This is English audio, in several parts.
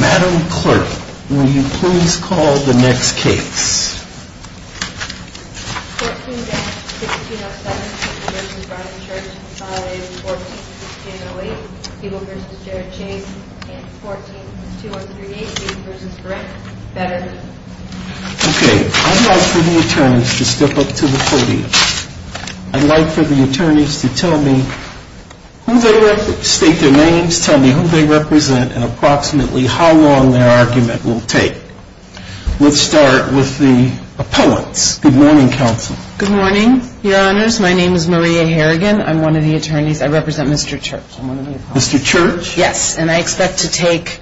Madam Clerk, will you please call the next case? 14-1607, People v. Bryan Church, 5-14-1608, People v. Jared Chase, 14-2138, People v. Grant, Betterment. Okay, I'd like for the attorneys to step up to the podium. I'd like for the attorneys to tell me who they represent, state their names, tell me who they represent, and approximately how long their argument will take. Let's start with the opponents. Good morning, counsel. Good morning, Your Honors. My name is Maria Harrigan. I'm one of the attorneys. I represent Mr. Church. Mr. Church? Yes, and I expect to take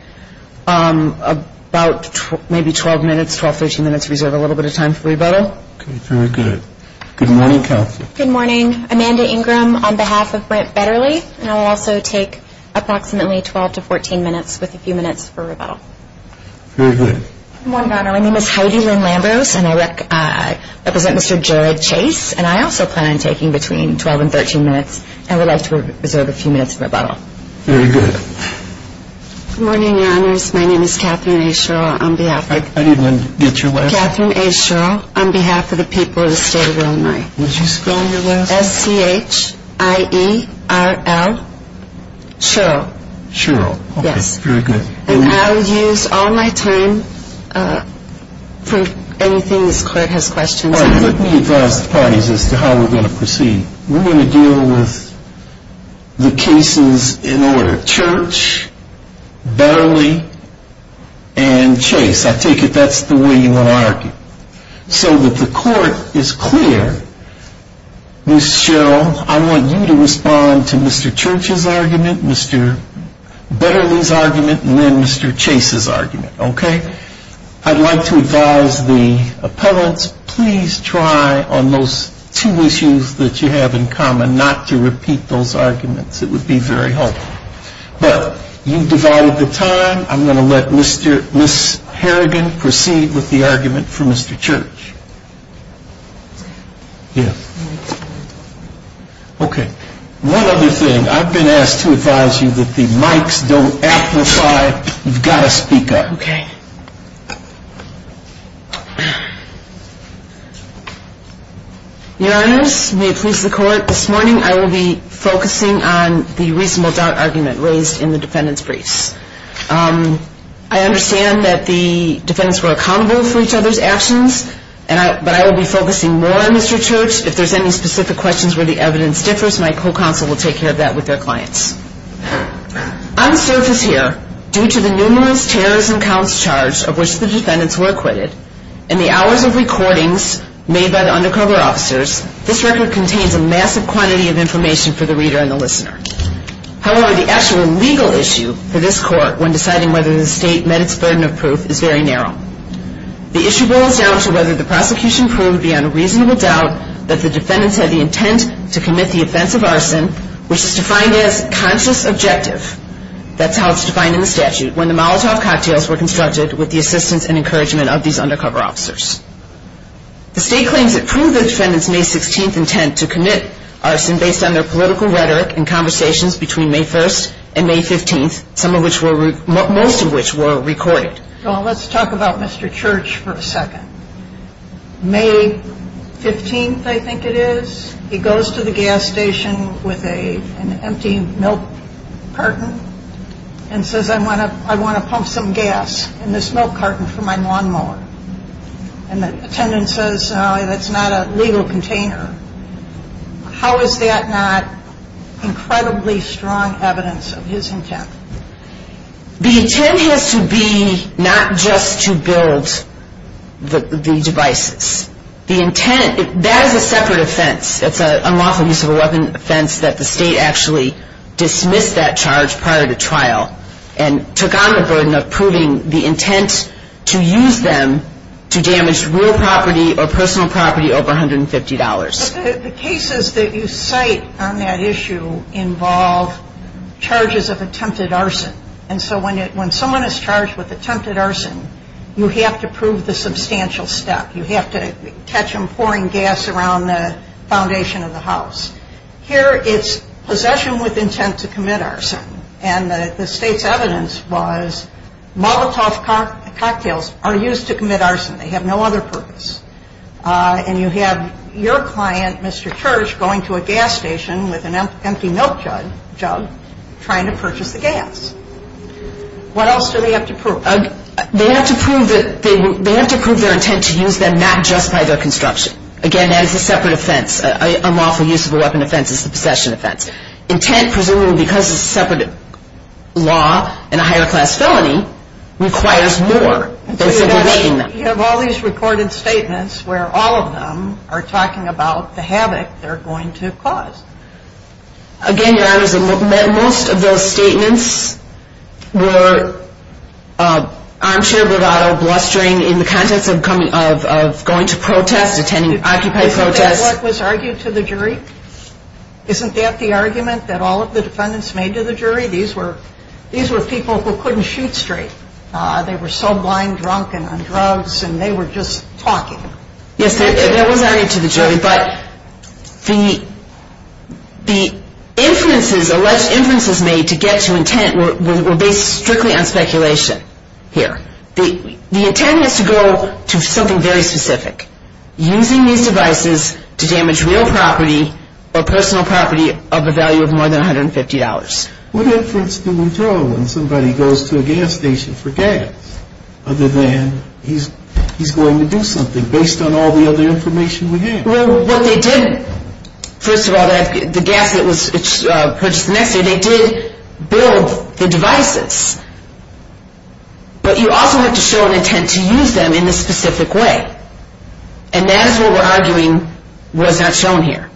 about maybe 12 minutes, 12, 13 minutes, reserve a little bit of time for rebuttal. Okay, very good. Good morning, counsel. Good morning. Amanda Ingram on behalf of Brent Betterly, and I will also take approximately 12 to 14 minutes with a few minutes for rebuttal. Very good. Good morning, Your Honor. My name is Heidi Lynn Lambros, and I represent Mr. Jared Chase, and I also plan on taking between 12 and 13 minutes, and would like to reserve a few minutes for rebuttal. Very good. Good morning, Your Honors. My name is Catherine A. Sherrill on behalf of... I need Lynn to get your way. My name is Catherine A. Sherrill on behalf of the people of the state of Illinois. Would you spell your last name? S-C-H-I-E-R-L, Sherrill. Sherrill. Yes. Okay, very good. And I will use all my time for anything this Court has questions on. All right, let me advise the parties as to how we're going to proceed. We're going to deal with the cases in order, Church, Betterly, and Chase. Yes, I take it that's the way you want to argue. So that the Court is clear, Ms. Sherrill, I want you to respond to Mr. Church's argument, Mr. Betterly's argument, and then Mr. Chase's argument, okay? I'd like to advise the appellants, please try on those two issues that you have in common not to repeat those arguments. It would be very helpful. But you've divided the time. I'm going to let Ms. Harrigan proceed with the argument for Mr. Church. Yes. Okay. One other thing. I've been asked to advise you that the mics don't amplify. You've got to speak up. Okay. Your Honors, may it please the Court, this morning I will be focusing on the reasonable doubt argument raised in the defendant's briefs. I understand that the defendants were accountable for each other's actions, but I will be focusing more on Mr. Church. If there's any specific questions where the evidence differs, my co-counsel will take care of that with their clients. On the surface here, due to the numerous terrorism counts charged of which the defendants were acquitted and the hours of recordings made by the undercover officers, this record contains a massive quantity of information for the reader and the listener. However, the actual legal issue for this Court when deciding whether the State met its burden of proof is very narrow. The issue boils down to whether the prosecution proved beyond a reasonable doubt that the defendants had the intent to commit the offense of arson, which is defined as conscious objective. That's how it's defined in the statute, when the Molotov cocktails were constructed with the assistance and encouragement of these undercover officers. The State claims it proved the defendants' May 16th intent to commit arson based on their political rhetoric and conversations between May 1st and May 15th, most of which were recorded. Well, let's talk about Mr. Church for a second. May 15th, I think it is, he goes to the gas station with an empty milk carton and says, I want to pump some gas in this milk carton for my lawnmower. And the attendant says, that's not a legal container. How is that not incredibly strong evidence of his intent? The intent has to be not just to build the devices. The intent, that is a separate offense. It's an unlawful use of a weapon offense that the State actually dismissed that charge prior to trial and took on the burden of proving the intent to use them to damage real property or personal property over $150. The cases that you cite on that issue involve charges of attempted arson. And so when someone is charged with attempted arson, you have to prove the substantial step. You have to catch them pouring gas around the foundation of the house. Here it's possession with intent to commit arson. And the State's evidence was Molotov cocktails are used to commit arson. They have no other purpose. And you have your client, Mr. Church, going to a gas station with an empty milk jug trying to purchase the gas. What else do they have to prove? They have to prove their intent to use them not just by their construction. Again, that is a separate offense. An unlawful use of a weapon offense is a possession offense. Intent, presumably because it's a separate law and a higher class felony, requires more than simply making them. You have all these recorded statements where all of them are talking about the havoc they're going to cause. Again, Your Honors, most of those statements were armchair bravado, blustering in the context of going to protests, attending occupied protests. Isn't that what was argued to the jury? Isn't that the argument that all of the defendants made to the jury? These were people who couldn't shoot straight. They were so blind drunk and on drugs, and they were just talking. Yes, that was argued to the jury. But the inferences, alleged inferences made to get to intent were based strictly on speculation here. The intent is to go to something very specific. Using these devices to damage real property or personal property of a value of more than $150. What inference do we draw when somebody goes to a gas station for gas other than he's going to do something? Is it based on all the other information we have? Well, what they did, first of all, the gas that was purchased the next day, they did build the devices. But you also have to show an intent to use them in a specific way. And that is what we're arguing was not shown here.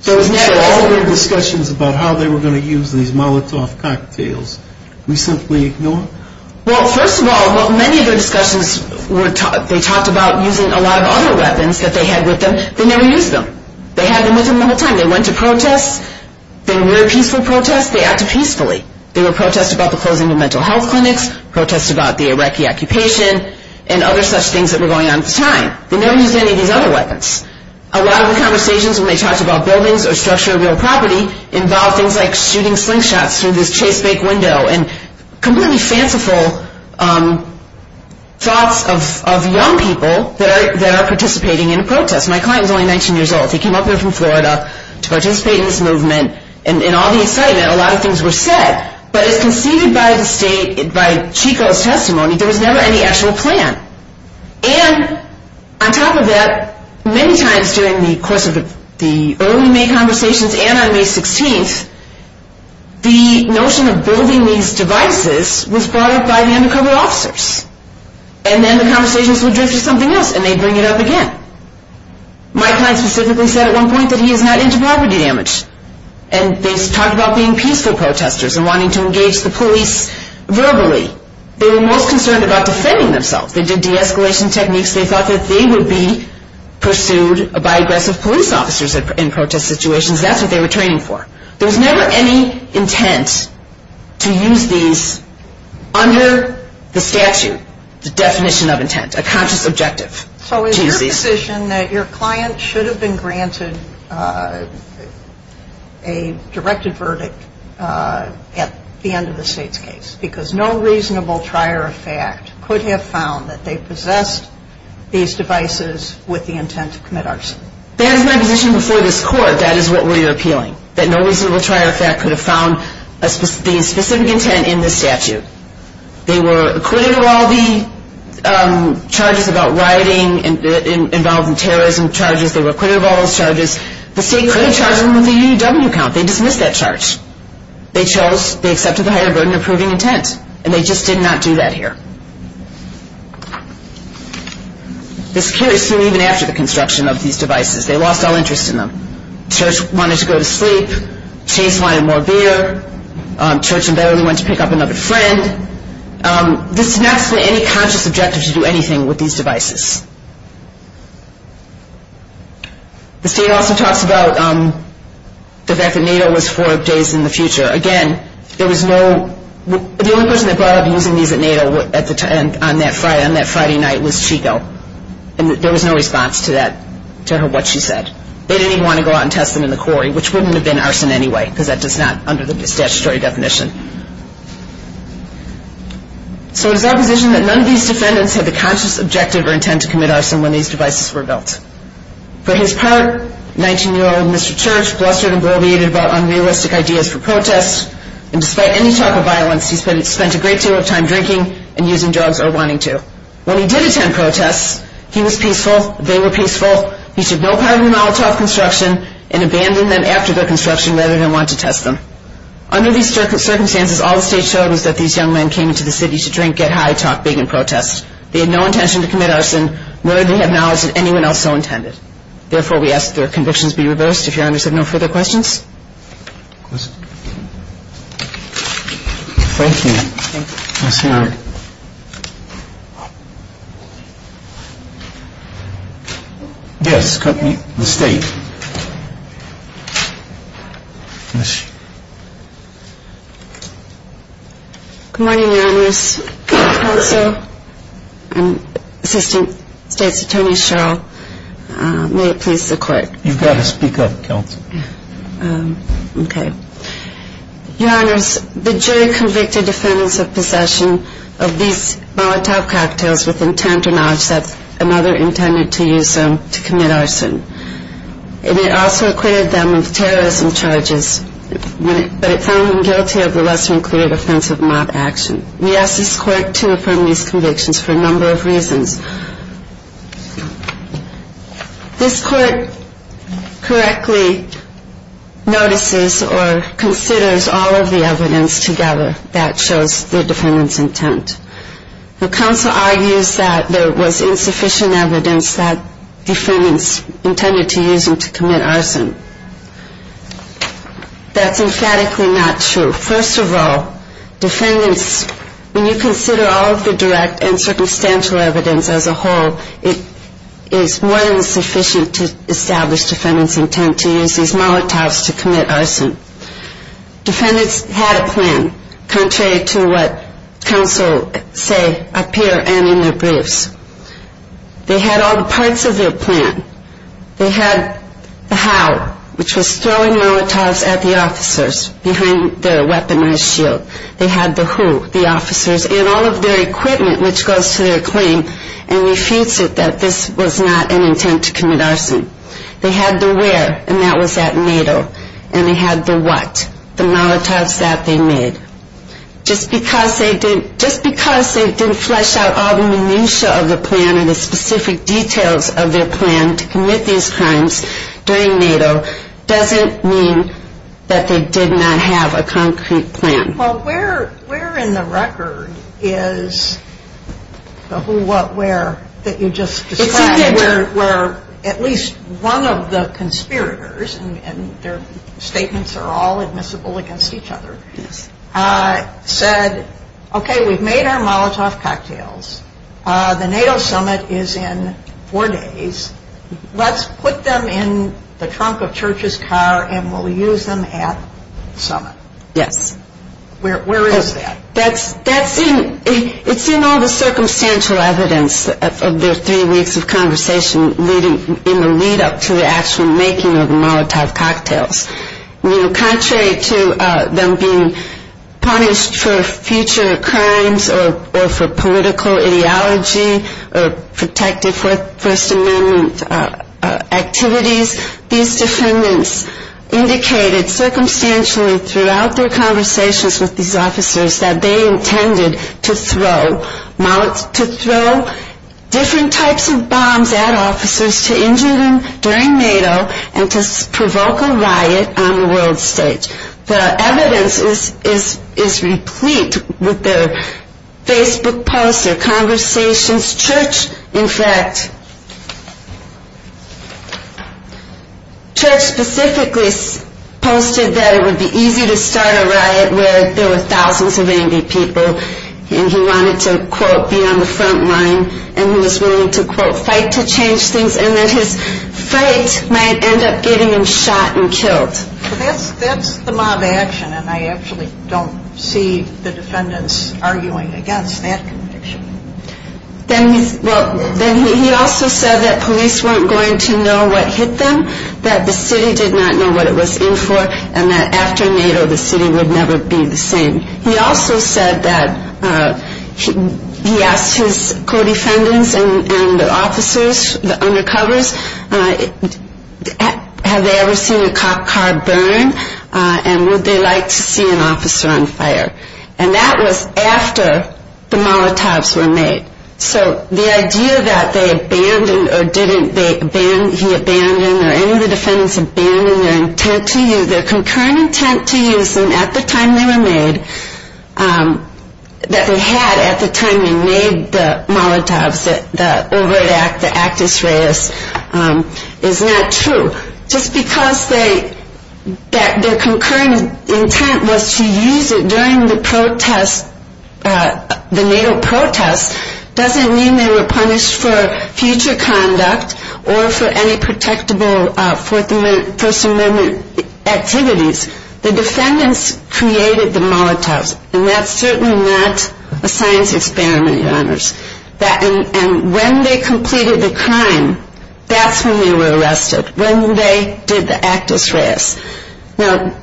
So all of the discussions about how they were going to use these Molotov cocktails, we simply ignore? Well, first of all, many of their discussions, they talked about using a lot of other weapons that they had with them. They never used them. They had them with them the whole time. They went to protests. They were peaceful protests. They acted peacefully. There were protests about the closing of mental health clinics, protests about the Iraqi occupation, and other such things that were going on at the time. They never used any of these other weapons. A lot of the conversations when they talked about buildings or structure of real property involved things like shooting slingshots through this chase bake window and completely fanciful thoughts of young people that are participating in a protest. My client is only 19 years old. He came up here from Florida to participate in this movement. And in all the excitement, a lot of things were said. But as conceded by the state, by Chico's testimony, there was never any actual plan. And on top of that, many times during the course of the early May conversations and on May 16th, the notion of building these devices was brought up by the undercover officers. And then the conversations would drift to something else, and they'd bring it up again. My client specifically said at one point that he is not into property damage. And they talked about being peaceful protesters and wanting to engage the police verbally. They were most concerned about defending themselves. They did de-escalation techniques. They thought that they would be pursued by aggressive police officers in protest situations. That's what they were training for. There was never any intent to use these under the statute, the definition of intent, a conscious objective. So is your position that your client should have been granted a directed verdict at the end of the state's case because no reasonable trier of fact could have found that they possessed these devices with the intent to commit arson? That is my position before this Court. That is what we are appealing, that no reasonable trier of fact could have found the specific intent in this statute. They were acquitted of all the charges about rioting involved in terrorism charges. They were acquitted of all those charges. The state could have charged them with a UW count. They dismissed that charge. They chose, they accepted the higher burden of proving intent. And they just did not do that here. The security soon even after the construction of these devices, they lost all interest in them. Church wanted to go to sleep. Chase wanted more beer. Church and Bailey went to pick up another friend. This does not explain any conscious objective to do anything with these devices. The state also talks about the fact that NATO was for days in the future. Again, there was no, the only person that brought up using these at NATO on that Friday night was Chico. And there was no response to that, to what she said. They didn't even want to go out and test them in the quarry, which wouldn't have been arson anyway, because that is not under the statutory definition. So is our position that none of these defendants had the conscious objective or intent to use these devices? None of them had the intent to commit arson when these devices were built. For his part, 19-year-old Mr. Church blustered and gloated about unrealistic ideas for protests. And despite any type of violence, he spent a great deal of time drinking and using drugs or wanting to. When he did attend protests, he was peaceful, they were peaceful. He took no part in the Molotov construction and abandoned them after the construction rather than want to test them. Under these circumstances, all the state showed was that these young men came into the city to drink, get high, talk big and protest. They had no intention to commit arson, nor did they have knowledge that anyone else so intended. Therefore, we ask that their convictions be reversed. If Your Honors have no further questions. Thank you. Thank you. Yes, Your Honor. Yes, the State. Yes. Good morning, Your Honors. Counsel and Assistant State's Attorney Sherrill, may it please the Court. You've got to speak up, Counsel. Okay. Your Honors, the jury convicted defendants of possession of these Molotov cocktails with intent or knowledge that another intended to use them to commit arson. It also acquitted them of terrorism charges, but it found them guilty of the lesser-included offense of mob action. We ask this Court to affirm these convictions for a number of reasons. This Court correctly notices or considers all of the evidence together that shows the defendants' intent. The Counsel argues that there was insufficient evidence that defendants intended to use them to commit arson. That's emphatically not true. First of all, defendants, when you consider all of the direct and circumstantial evidence as a whole, it is more than sufficient to establish defendants' intent to use these Molotovs to commit arson. Defendants had a plan, contrary to what Counsel say up here and in their briefs. They had all the parts of their plan. They had the how, which was throwing Molotovs at the officers behind their weaponized shield. They had the who, the officers, and all of their equipment, which goes to their claim and refutes it that this was not an intent to commit arson. They had the where, and that was at NATO. And they had the what, the Molotovs that they made. Just because they didn't flesh out all the minutia of the plan and the specific details of their plan to commit these crimes during NATO doesn't mean that they did not have a concrete plan. Well, where in the record is the who, what, where that you just described? At least one of the conspirators, and their statements are all admissible against each other, said, okay, we've made our Molotov cocktails. The NATO summit is in four days. Let's put them in the trunk of Church's car and we'll use them at summit. Yes. Where is that? That's in, it's in all the circumstantial evidence of their three weeks of conversation in the lead-up to the actual making of the Molotov cocktails. Contrary to them being punished for future crimes or for political ideology or protective First Amendment activities, these defendants indicated circumstantially throughout their conversations with these officers that they intended to throw Molotovs, to throw different types of bombs at officers to injure them during NATO and to provoke a riot on the world stage. The evidence is replete with their Facebook posts, their conversations. Church, in fact, Church specifically posted that it would be easy to start a riot where there were thousands of angry people and he wanted to, quote, be on the front line and he was willing to, quote, fight to change things and that his fight might end up getting him shot and killed. That's the mob action and I actually don't see the defendants arguing against that conviction. Then he also said that police weren't going to know what hit them, that the city did not know what it was in for and that after NATO the city would never be the same. He also said that, he asked his co-defendants and the officers, the undercovers, have they ever seen a car burn and would they like to see an officer on fire. And that was after the Molotovs were made. So the idea that they abandoned or didn't, he abandoned or any of the defendants abandoned their intent to use, their concurrent intent to use them at the time they were made, that they had at the time they made the Molotovs, the Ovid Act, the Actus Reis, is not true. Just because their concurrent intent was to use it during the protest, the NATO protest, doesn't mean they were punished for future conduct or for any protectable First Amendment activities. The defendants created the Molotovs and that's certainly not a science experiment. And when they completed the crime, that's when they were arrested. When they did the Actus Reis. Now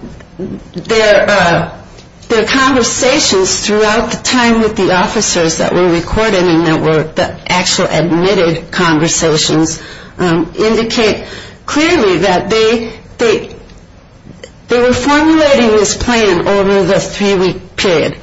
their conversations throughout the time with the officers that were recorded and that were the actual admitted conversations, indicate clearly that they were formulating this plan over the three week period.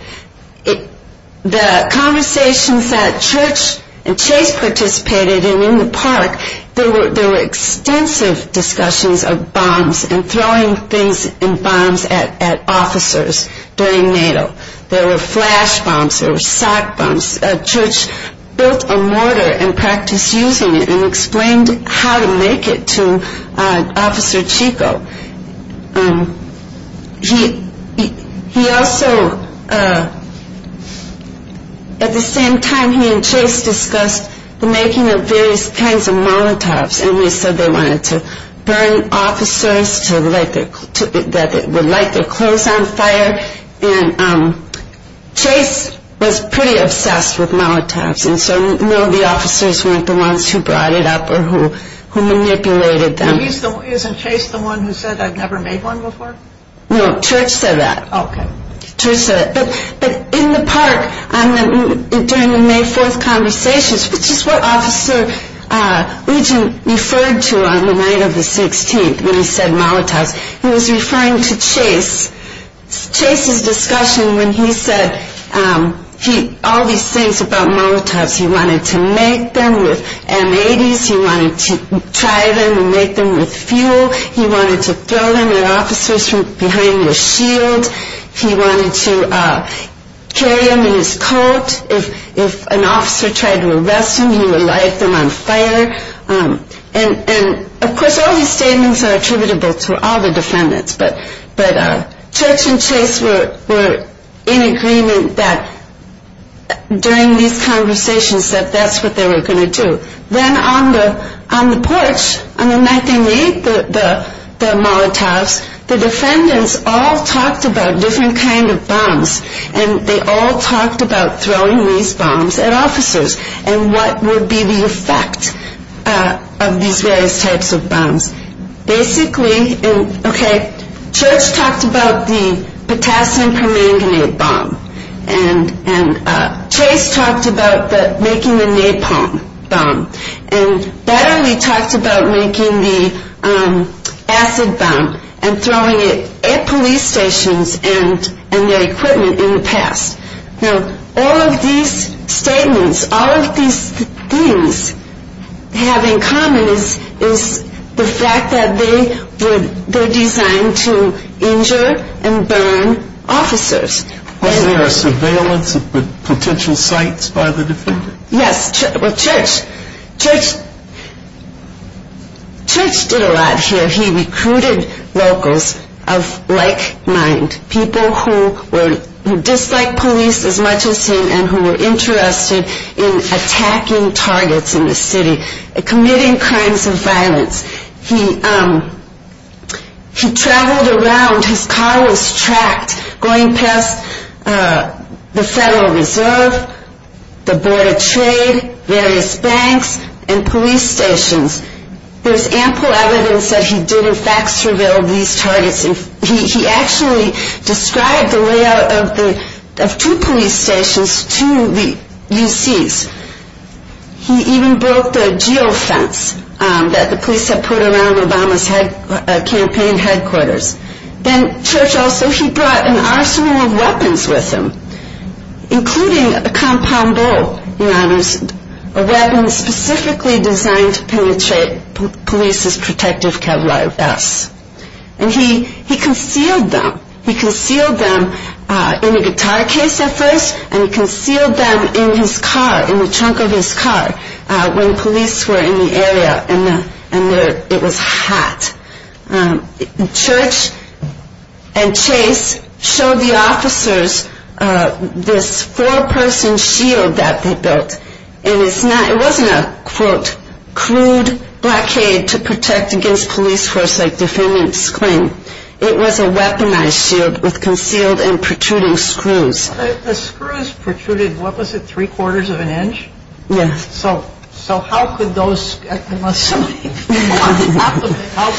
The conversations that Church and Chase participated in in the park, there were extensive discussions of bombs and throwing things and bombs at officers during NATO. There were flash bombs, there were sock bombs. Church built a mortar and practiced using it and explained how to make it to Officer Chico. He also, at the same time he and Chase discussed the making of various kinds of Molotovs and they said they wanted to burn officers to light their clothes on fire. And Chase was pretty obsessed with Molotovs and so none of the officers weren't the ones who brought it up or who manipulated them. Isn't Chase the one who said I've never made one before? No, Church said that. Okay. Church said that. But in the park during the May 4th conversations, which is what Officer Ugin referred to on the night of the 16th when he said Molotovs, he was referring to Chase. Chase's discussion when he said all these things about Molotovs, he wanted to make them with M-80s, he wanted to try them and make them with fuel, he wanted to throw them at officers from behind the shield, he wanted to carry them in his coat. If an officer tried to arrest him, he would light them on fire. And of course all these statements are attributable to all the defendants, but Church and Chase were in agreement that during these conversations that that's what they were going to do. Then on the porch on the night they made the Molotovs, the defendants all talked about different kinds of bombs and they all talked about throwing these bombs at officers and what would be the effect of these various types of bombs. Church talked about the potassium permanganate bomb and Chase talked about making the napalm bomb and Betterly talked about making the acid bomb and throwing it at police stations and their equipment in the past. Now all of these statements, all of these things have in common is the fact that they were designed to injure and burn officers. Was there surveillance of potential sites by the defendants? Yes, Church did a lot here, he recruited locals of like mind, people who disliked police as much as him and who were interested in attacking targets in the city, committing crimes of violence. He traveled around, his car was tracked going past the Federal Reserve, the Board of Trade, various banks and police stations. There's ample evidence that he did in fact surveil these targets. He actually described the layout of two police stations to the UCs. He even broke the geofence that the police had put around Obama's campaign headquarters. Then Church also, he brought an arsenal of weapons with him, including a compound bow, a weapon specifically designed to penetrate police's protective kevlar vests. He concealed them, he concealed them in a guitar case at first and he concealed them in his car, in the trunk of his car when police were in the area and it was hot. Church and Chase showed the officers this four person shield that they built. It wasn't a crude blockade to protect against police force like defendants claim, it was a weaponized shield with concealed and protruding screws. The screws protruded, what was it, three quarters of an inch? Yes. So how could those, how could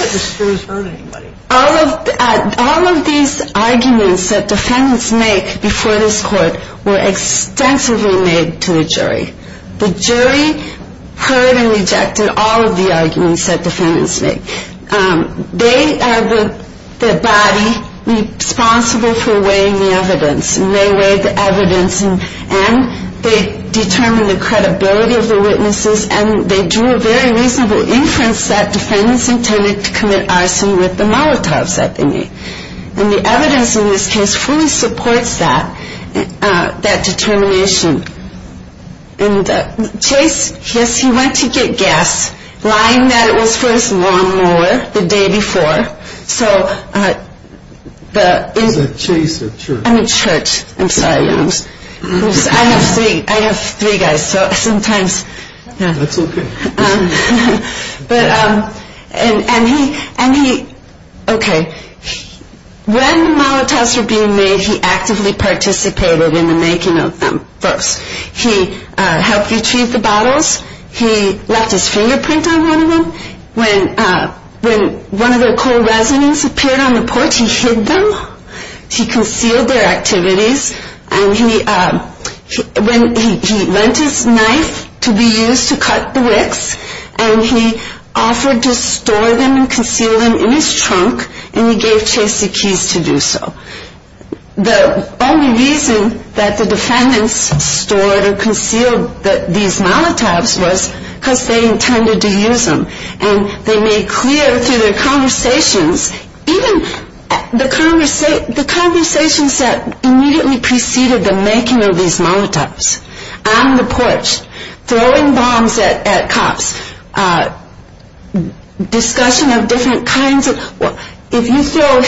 the screws hurt anybody? All of these arguments that defendants make before this court were extensively made to the jury. The jury heard and rejected all of the arguments that defendants make. They are the body responsible for weighing the evidence and they weighed the evidence and they determined the credibility of the witnesses and they drew a very reasonable inference that defendants intended to commit arson with the molotovs that they made. And the evidence in this case fully supports that determination. And Chase, yes, he went to get gas, lying that it was for his lawnmower the day before. So the... Is it Chase or Church? I mean Church, I'm sorry. I have three guys, so sometimes... That's okay. But... And he... Okay. When the molotovs were being made, he actively participated in the making of them. First, he helped retrieve the bottles, he left his fingerprint on one of them. When one of the coal resins appeared on the porch, he hid them. He concealed their activities. And he... He lent his knife to be used to cut the wicks and he offered to store them and conceal them in his trunk and he gave Chase the keys to do so. The only reason that the defendants stored or concealed these molotovs was because they intended to use them. And they made clear through their conversations, even the conversations that immediately preceded the making of these molotovs, on the porch, throwing bombs at cops, discussion of different kinds of... If you throw a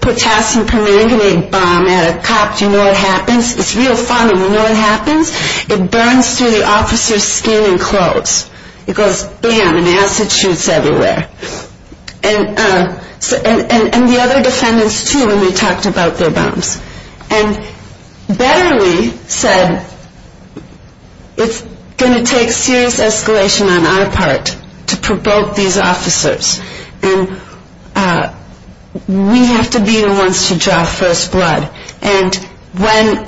potassium permanganate bomb at a cop, do you know what happens? It's real fun and you know what happens? It burns through the officer's skin and clothes. It goes BAM and acid shoots everywhere. And the other defendants too when we talked about their bombs. And Betterly said, it's going to take serious escalation on our part to provoke these officers. And we have to be the ones to draw first blood. And when...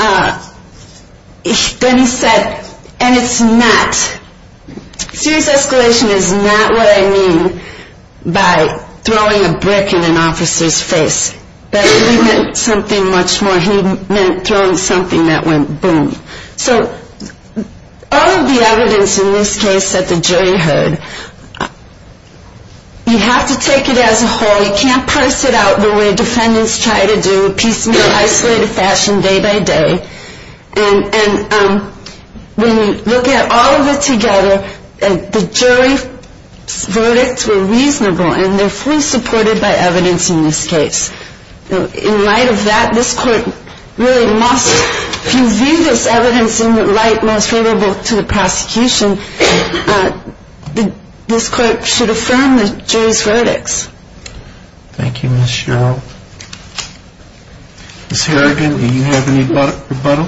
Then he said, and it's not... Serious escalation is not what I mean by throwing a brick in an officer's face. Betterly meant something much more. He meant throwing something that went BOOM. So all of the evidence in this case that the jury heard, you have to take it as a whole. You can't parse it out the way defendants try to do, piecemeal, isolated fashion, day by day. And when you look at all of it together, the jury's verdicts were reasonable and they're fully supported by evidence in this case. In light of that, this court really must... If you view this evidence in the light most favorable to the prosecution, this court should affirm the jury's verdicts. Thank you, Ms. Sherrill. Ms. Harrigan, do you have any rebuttal?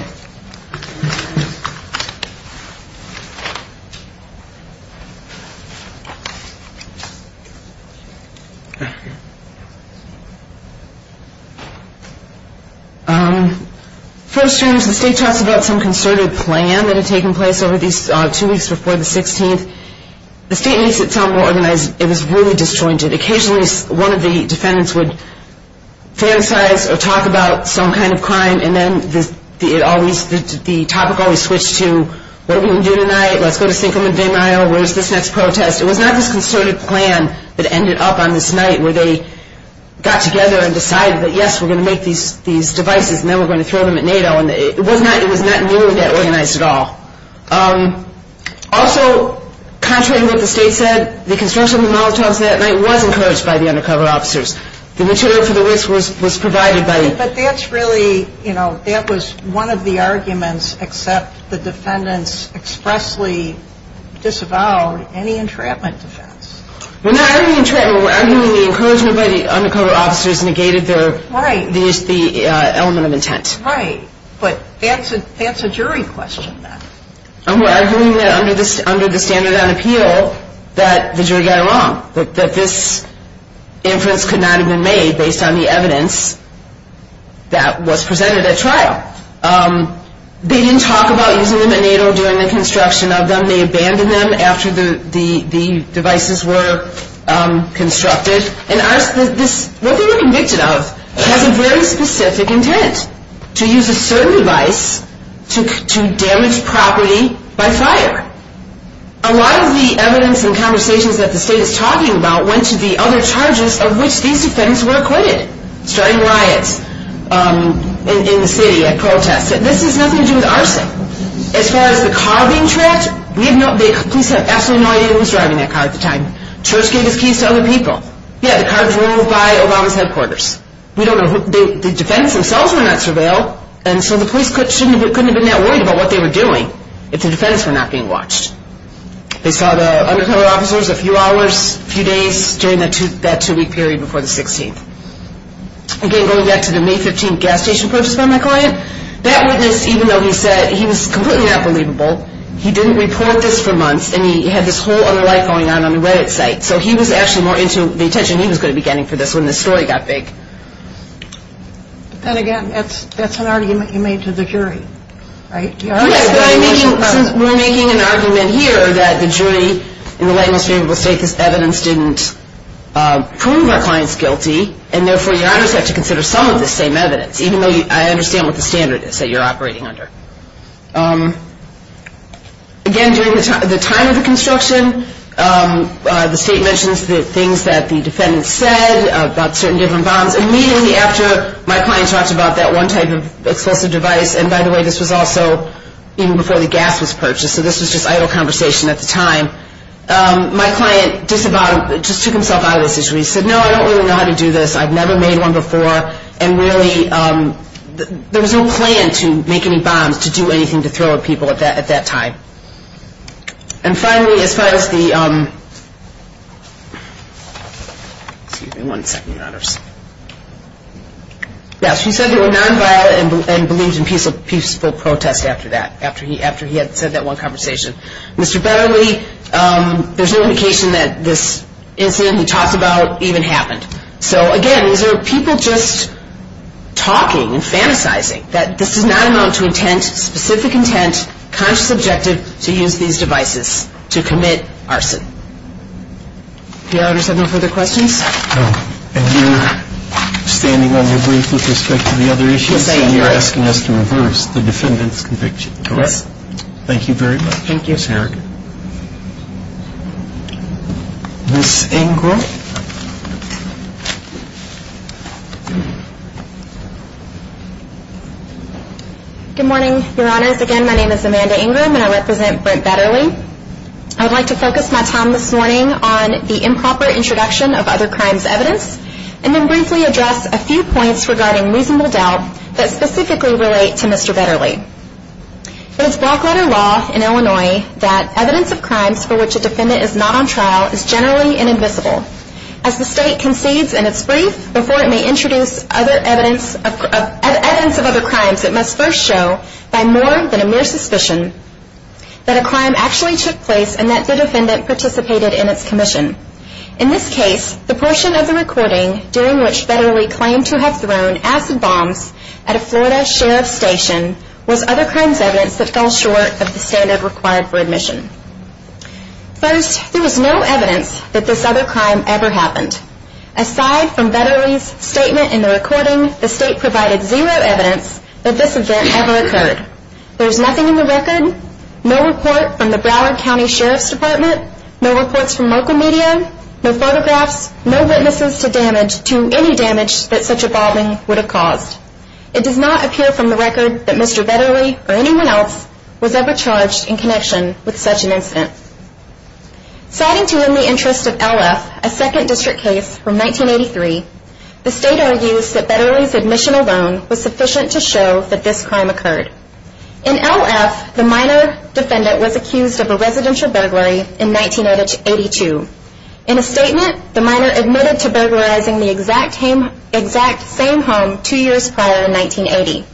First, the state talks about some concerted plan that had taken place over these two weeks before the 16th. The state makes it sound more organized. It was really disjointed. Occasionally, one of the defendants would fantasize or talk about some kind of crime and then the topic always switched to, what are we going to do tonight? Let's go to Cinco de Mayo. Where's this next protest? It was not this concerted plan that ended up on this night where they got together and decided that, yes, we're going to make these devices and then we're going to throw them at NATO. It was not nearly that organized at all. Also, contrary to what the state said, the construction of the Molotovs that night was encouraged by the undercover officers. The material for the risk was provided by... But that's really, you know, that was one of the arguments except the defendants expressly disavowed any entrapment defense. We're not arguing entrapment. But that's a jury question. We're arguing that under the standard on appeal that the jury got it wrong, that this inference could not have been made based on the evidence that was presented at trial. They didn't talk about using them at NATO during the construction of them. They abandoned them after the devices were constructed. What they were convicted of has a very specific intent, to use a certain device to damage property by fire. A lot of the evidence and conversations that the state is talking about went to the other charges of which these defendants were acquitted, starting riots in the city at protests. This has nothing to do with arson. As far as the car being trapped, we have no... the police have absolutely no idea who was driving that car at the time. Church gave his keys to other people. Yeah, the car drove by Obama's headquarters. We don't know who... the defendants themselves were not surveilled, and so the police couldn't have been that worried about what they were doing if the defendants were not being watched. They saw the undercover officers a few hours, a few days, during that two-week period before the 16th. Again, going back to the May 15th gas station protest by my client, that witness, even though he said he was completely unbelievable, he didn't report this for months, and he had this whole other life going on on the Reddit site, so he was actually more into the attention he was going to be getting for this when this story got big. But then again, that's an argument you made to the jury, right? Yeah, but I'm making... we're making an argument here that the jury in the late and most favorable state this evidence didn't prove our client's guilty, and therefore your honors have to consider some of this same evidence, even though I understand what the standard is that you're operating under. Again, during the time of the construction, the state mentions the things that the defendants said about certain different bombs. Immediately after my client talked about that one type of explosive device, and by the way, this was also even before the gas was purchased, so this was just idle conversation at the time, my client just took himself out of this situation. He said, no, I don't really know how to do this. I've never made one before, and really there was no plan to make any bombs to do anything to throw at people at that time. And finally, as far as the... Excuse me one second, your honors. Yes, he said they were nonviolent and believed in peaceful protest after that, after he had said that one conversation. Mr. Betterly, there's no indication that this incident he talks about even happened. So again, these are people just talking and fantasizing that this does not amount to intent, specific intent, conscious objective to use these devices to commit arson. Do your honors have no further questions? No. And you're standing on your brief with respect to the other issues, and you're asking us to reverse the defendant's conviction, correct? Yes. Thank you very much, Ms. Harrigan. Thank you. Ms. Ingram. Good morning, your honors. Again, my name is Amanda Ingram, and I represent Brent Betterly. I would like to focus my time this morning on the improper introduction of other crimes evidence, and then briefly address a few points regarding reasonable doubt that specifically relate to Mr. Betterly. It is block letter law in Illinois that evidence of crimes for which a defendant is not on trial is generally inadmissible. As the state concedes in its brief before it may introduce evidence of other crimes, it must first show by more than a mere suspicion that a crime actually took place and that the defendant participated in its commission. In this case, the portion of the recording during which Betterly claimed to have thrown acid bombs at a Florida sheriff's station was other crimes evidence that fell short of the standard required for admission. First, there was no evidence that this other crime ever happened. Aside from Betterly's statement in the recording, the state provided zero evidence that this event ever occurred. There's nothing in the record, no report from the Broward County Sheriff's Department, no reports from local media, no photographs, no witnesses to damage to any damage that such a bombing would have caused. It does not appear from the record that Mr. Betterly or anyone else was ever charged in connection with such an incident. Citing to you in the interest of LF, a second district case from 1983, the state argues that Betterly's admission alone was sufficient to show that this crime occurred. In LF, the minor defendant was accused of a residential burglary in 1982. In a statement, the minor admitted to burglarizing the exact same home two years prior in 1980.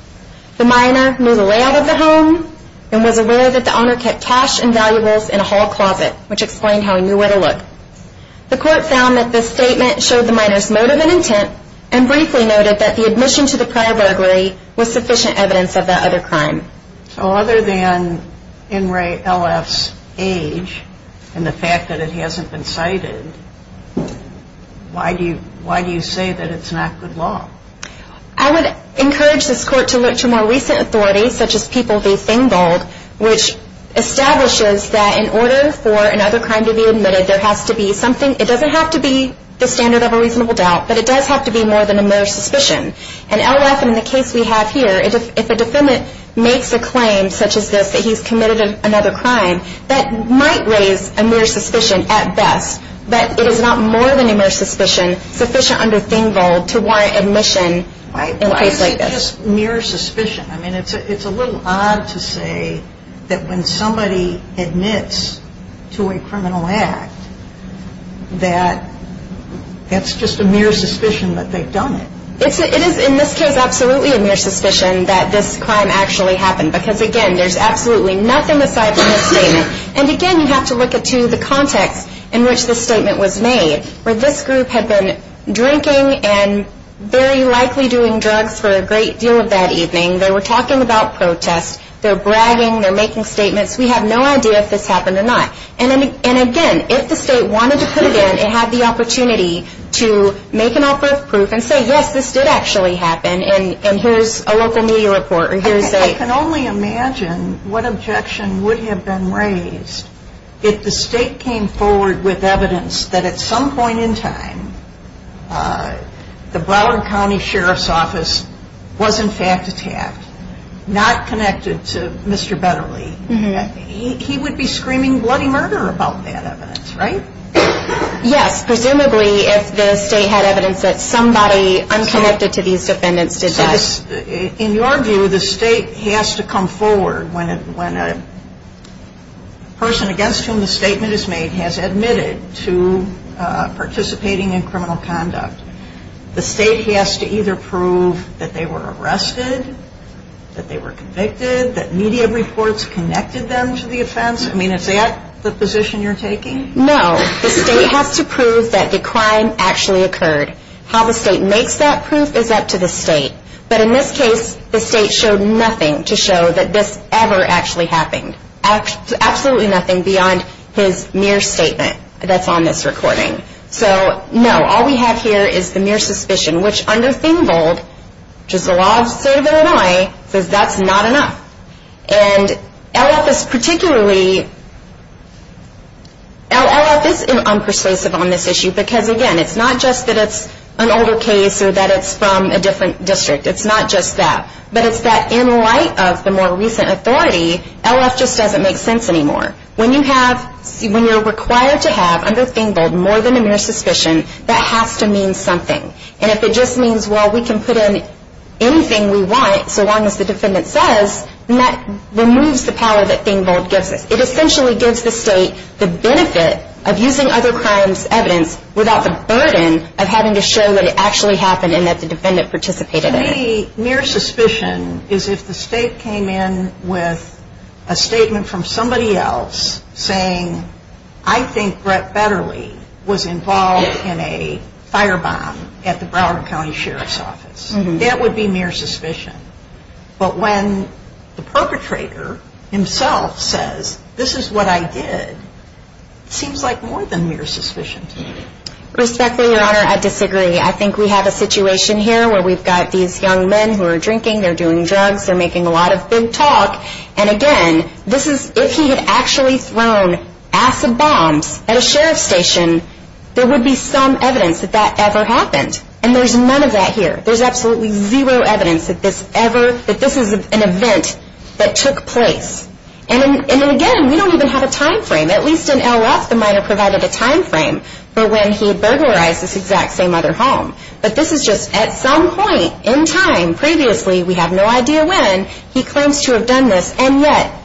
The minor knew the layout of the home and was aware that the owner kept cash and valuables in a hall closet, which explained how he knew where to look. The court found that this statement showed the minor's motive and intent and briefly noted that the admission to the prior burglary was sufficient evidence of that other crime. So other than NRA LF's age and the fact that it hasn't been cited, why do you say that it's not good law? I would encourage this court to look to more recent authorities, such as People v. Fingold, which establishes that in order for another crime to be admitted, there has to be something, it doesn't have to be the standard of a reasonable doubt, but it does have to be more than a mere suspicion. And LF, in the case we have here, if a defendant makes a claim such as this, that he's committed another crime, that might raise a mere suspicion at best, but it is not more than a mere suspicion sufficient under Fingold to warrant admission in a case like this. Why is it just mere suspicion? I mean, it's a little odd to say that when somebody admits to a criminal act, that that's just a mere suspicion that they've done it. It is, in this case, absolutely a mere suspicion that this crime actually happened, because, again, there's absolutely nothing aside from this statement. And, again, you have to look at, too, the context in which this statement was made, where this group had been drinking and very likely doing drugs for a great deal of that evening. They were talking about protest. They're bragging. They're making statements. We have no idea if this happened or not. And, again, if the state wanted to put it in and have the opportunity to make an offer of proof and say, yes, this did actually happen, and here's a local media report or here's a – I can only imagine what objection would have been raised if the state came forward with evidence that at some point in time the Broward County Sheriff's Office was, in fact, attacked, not connected to Mr. Betterly. He would be screaming bloody murder about that evidence, right? Yes. Presumably, if the state had evidence that somebody unconnected to these defendants did this. In your view, the state has to come forward when a person against whom the statement is made has admitted to participating in criminal conduct. The state has to either prove that they were arrested, that they were convicted, that media reports connected them to the offense. I mean, is that the position you're taking? No. The state has to prove that the crime actually occurred. How the state makes that proof is up to the state. But in this case, the state showed nothing to show that this ever actually happened. Absolutely nothing beyond his mere statement that's on this recording. So, no. All we have here is the mere suspicion, which under ThingVold, which is the law of the state of Illinois, says that's not enough. And LF is particularly, LF is unpersuasive on this issue because, again, it's not just that it's an older case or that it's from a different district. It's not just that. But it's that in light of the more recent authority, LF just doesn't make sense anymore. When you're required to have, under ThingVold, more than a mere suspicion, that has to mean something. And if it just means, well, we can put in anything we want, so long as the defendant says, then that removes the power that ThingVold gives us. It essentially gives the state the benefit of using other crimes' evidence without the burden of having to show that it actually happened and that the defendant participated in it. To me, mere suspicion is if the state came in with a statement from somebody else saying, I think Brett Betterly was involved in a firebomb at the Broward County Sheriff's Office. That would be mere suspicion. But when the perpetrator himself says, this is what I did, it seems like more than mere suspicion to me. Respectfully, Your Honor, I disagree. I think we have a situation here where we've got these young men who are drinking, they're doing drugs, they're making a lot of big talk. And again, if he had actually thrown acid bombs at a sheriff's station, there would be some evidence that that ever happened. And there's none of that here. There's absolutely zero evidence that this ever, that this is an event that took place. And again, we don't even have a time frame. At least in El Roth, the minor provided a time frame for when he had burglarized this exact same other home. But this is just at some point in time previously, we have no idea when, he claims to have done this, and yet,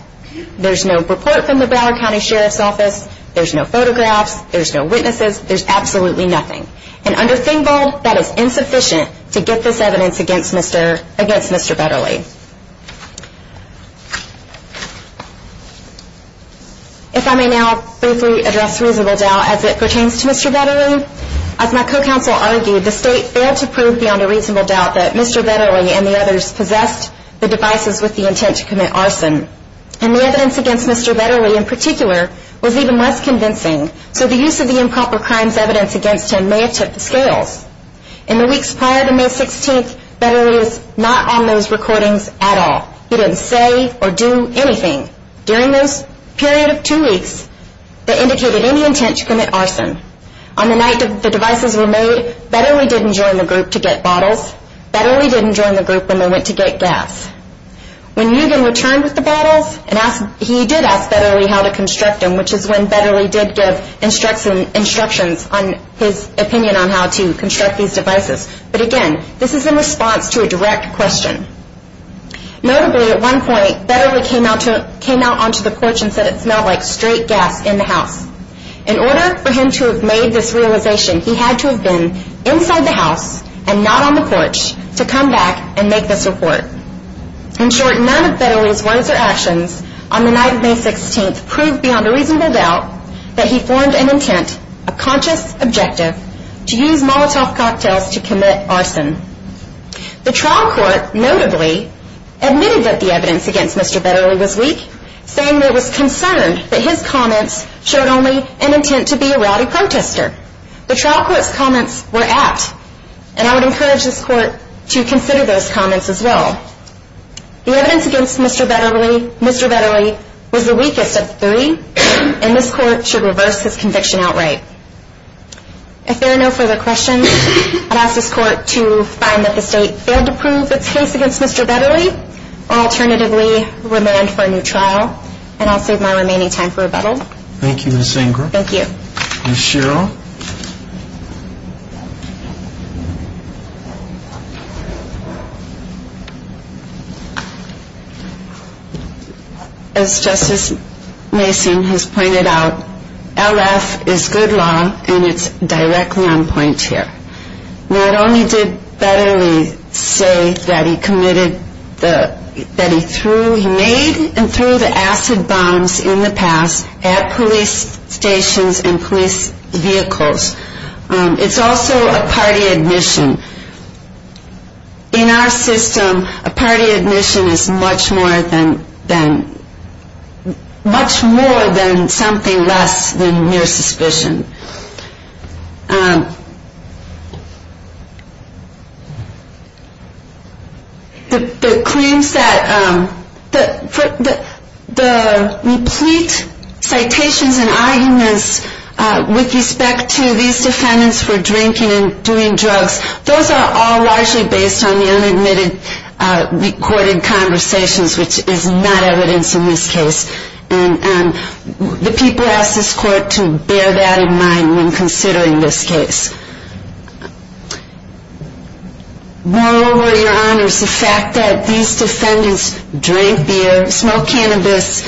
there's no report from the Broward County Sheriff's Office, there's no photographs, there's no witnesses, there's absolutely nothing. And under Fingold, that is insufficient to get this evidence against Mr. Betterly. If I may now briefly address reasonable doubt as it pertains to Mr. Betterly. As my co-counsel argued, the State failed to prove beyond a reasonable doubt that Mr. Betterly and the others possessed the devices with the intent to commit arson. And the evidence against Mr. Betterly in particular was even less convincing. So the use of the improper crimes evidence against him may have took the scales. In the weeks prior to May 16th, Betterly was not on those recordings at all. He didn't say or do anything during those period of two weeks that indicated any intent to commit arson. On the night that the devices were made, Betterly didn't join the group to get bottles. Betterly didn't join the group when they went to get gas. When Eugen returned with the bottles, he did ask Betterly how to construct them, which is when Betterly did give instructions on his opinion on how to construct these devices. But again, this is in response to a direct question. Notably, at one point, Betterly came out onto the porch and said it smelled like straight gas in the house. In order for him to have made this realization, he had to have been inside the house and not on the porch to come back and make this report. In short, none of Betterly's words or actions on the night of May 16th proved beyond a reasonable doubt that he formed an intent, a conscious objective, to use Molotov cocktails to commit arson. The trial court notably admitted that the evidence against Mr. Betterly was weak, saying that it was concerned that his comments showed only an intent to be a rowdy protester. The trial court's comments were apt, and I would encourage this court to consider those comments as well. The evidence against Mr. Betterly was the weakest of the three, and this court should reverse his conviction outright. If there are no further questions, I'd ask this court to find that the state failed to prove its case against Mr. Betterly or alternatively remand for a new trial, and I'll save my remaining time for rebuttal. Thank you, Ms. Ingram. Thank you. Ms. Sherrill. As Justice Mason has pointed out, LF is good law, and it's directly on point here. Not only did Betterly say that he made and threw the acid bombs in the past at police stations and police vehicles, it's also a party admission. In our system, a party admission is much more than something less than mere suspicion. The claims that the replete citations and arguments with respect to these defendants for drinking and doing drugs, those are all largely based on the unadmitted recorded conversations, which is not evidence in this case. And the people ask this court to bear that in mind when considering this case. Moreover, Your Honors, the fact that these defendants drank beer, smoked cannabis,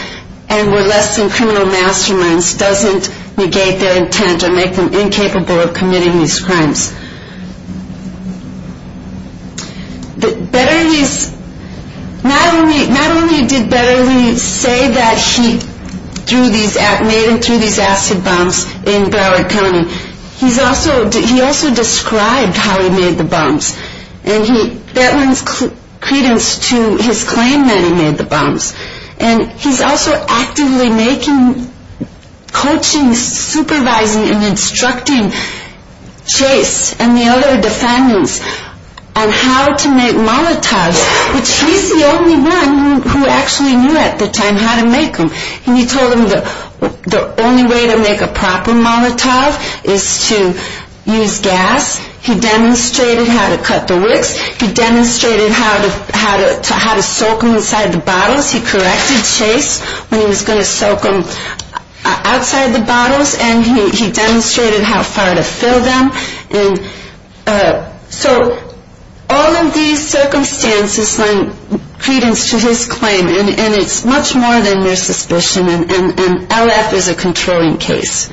and were less than criminal masterminds, doesn't negate their intent or make them incapable of committing these crimes. Betterly's, not only did Betterly say that he made and threw these acid bombs in Broward County, he also described how he made the bombs, and that lends credence to his claim that he made the bombs. And he's also actively making, coaching, supervising, and instructing Chase and the other defendants on how to make Molotovs, which he's the only one who actually knew at the time how to make them. And he told them the only way to make a proper Molotov is to use gas. He demonstrated how to cut the wicks. He demonstrated how to soak them inside the bottles. He corrected Chase when he was going to soak them outside the bottles, and he demonstrated how far to fill them. So all of these circumstances lend credence to his claim, and it's much more than mere suspicion. And LF is a controlling case.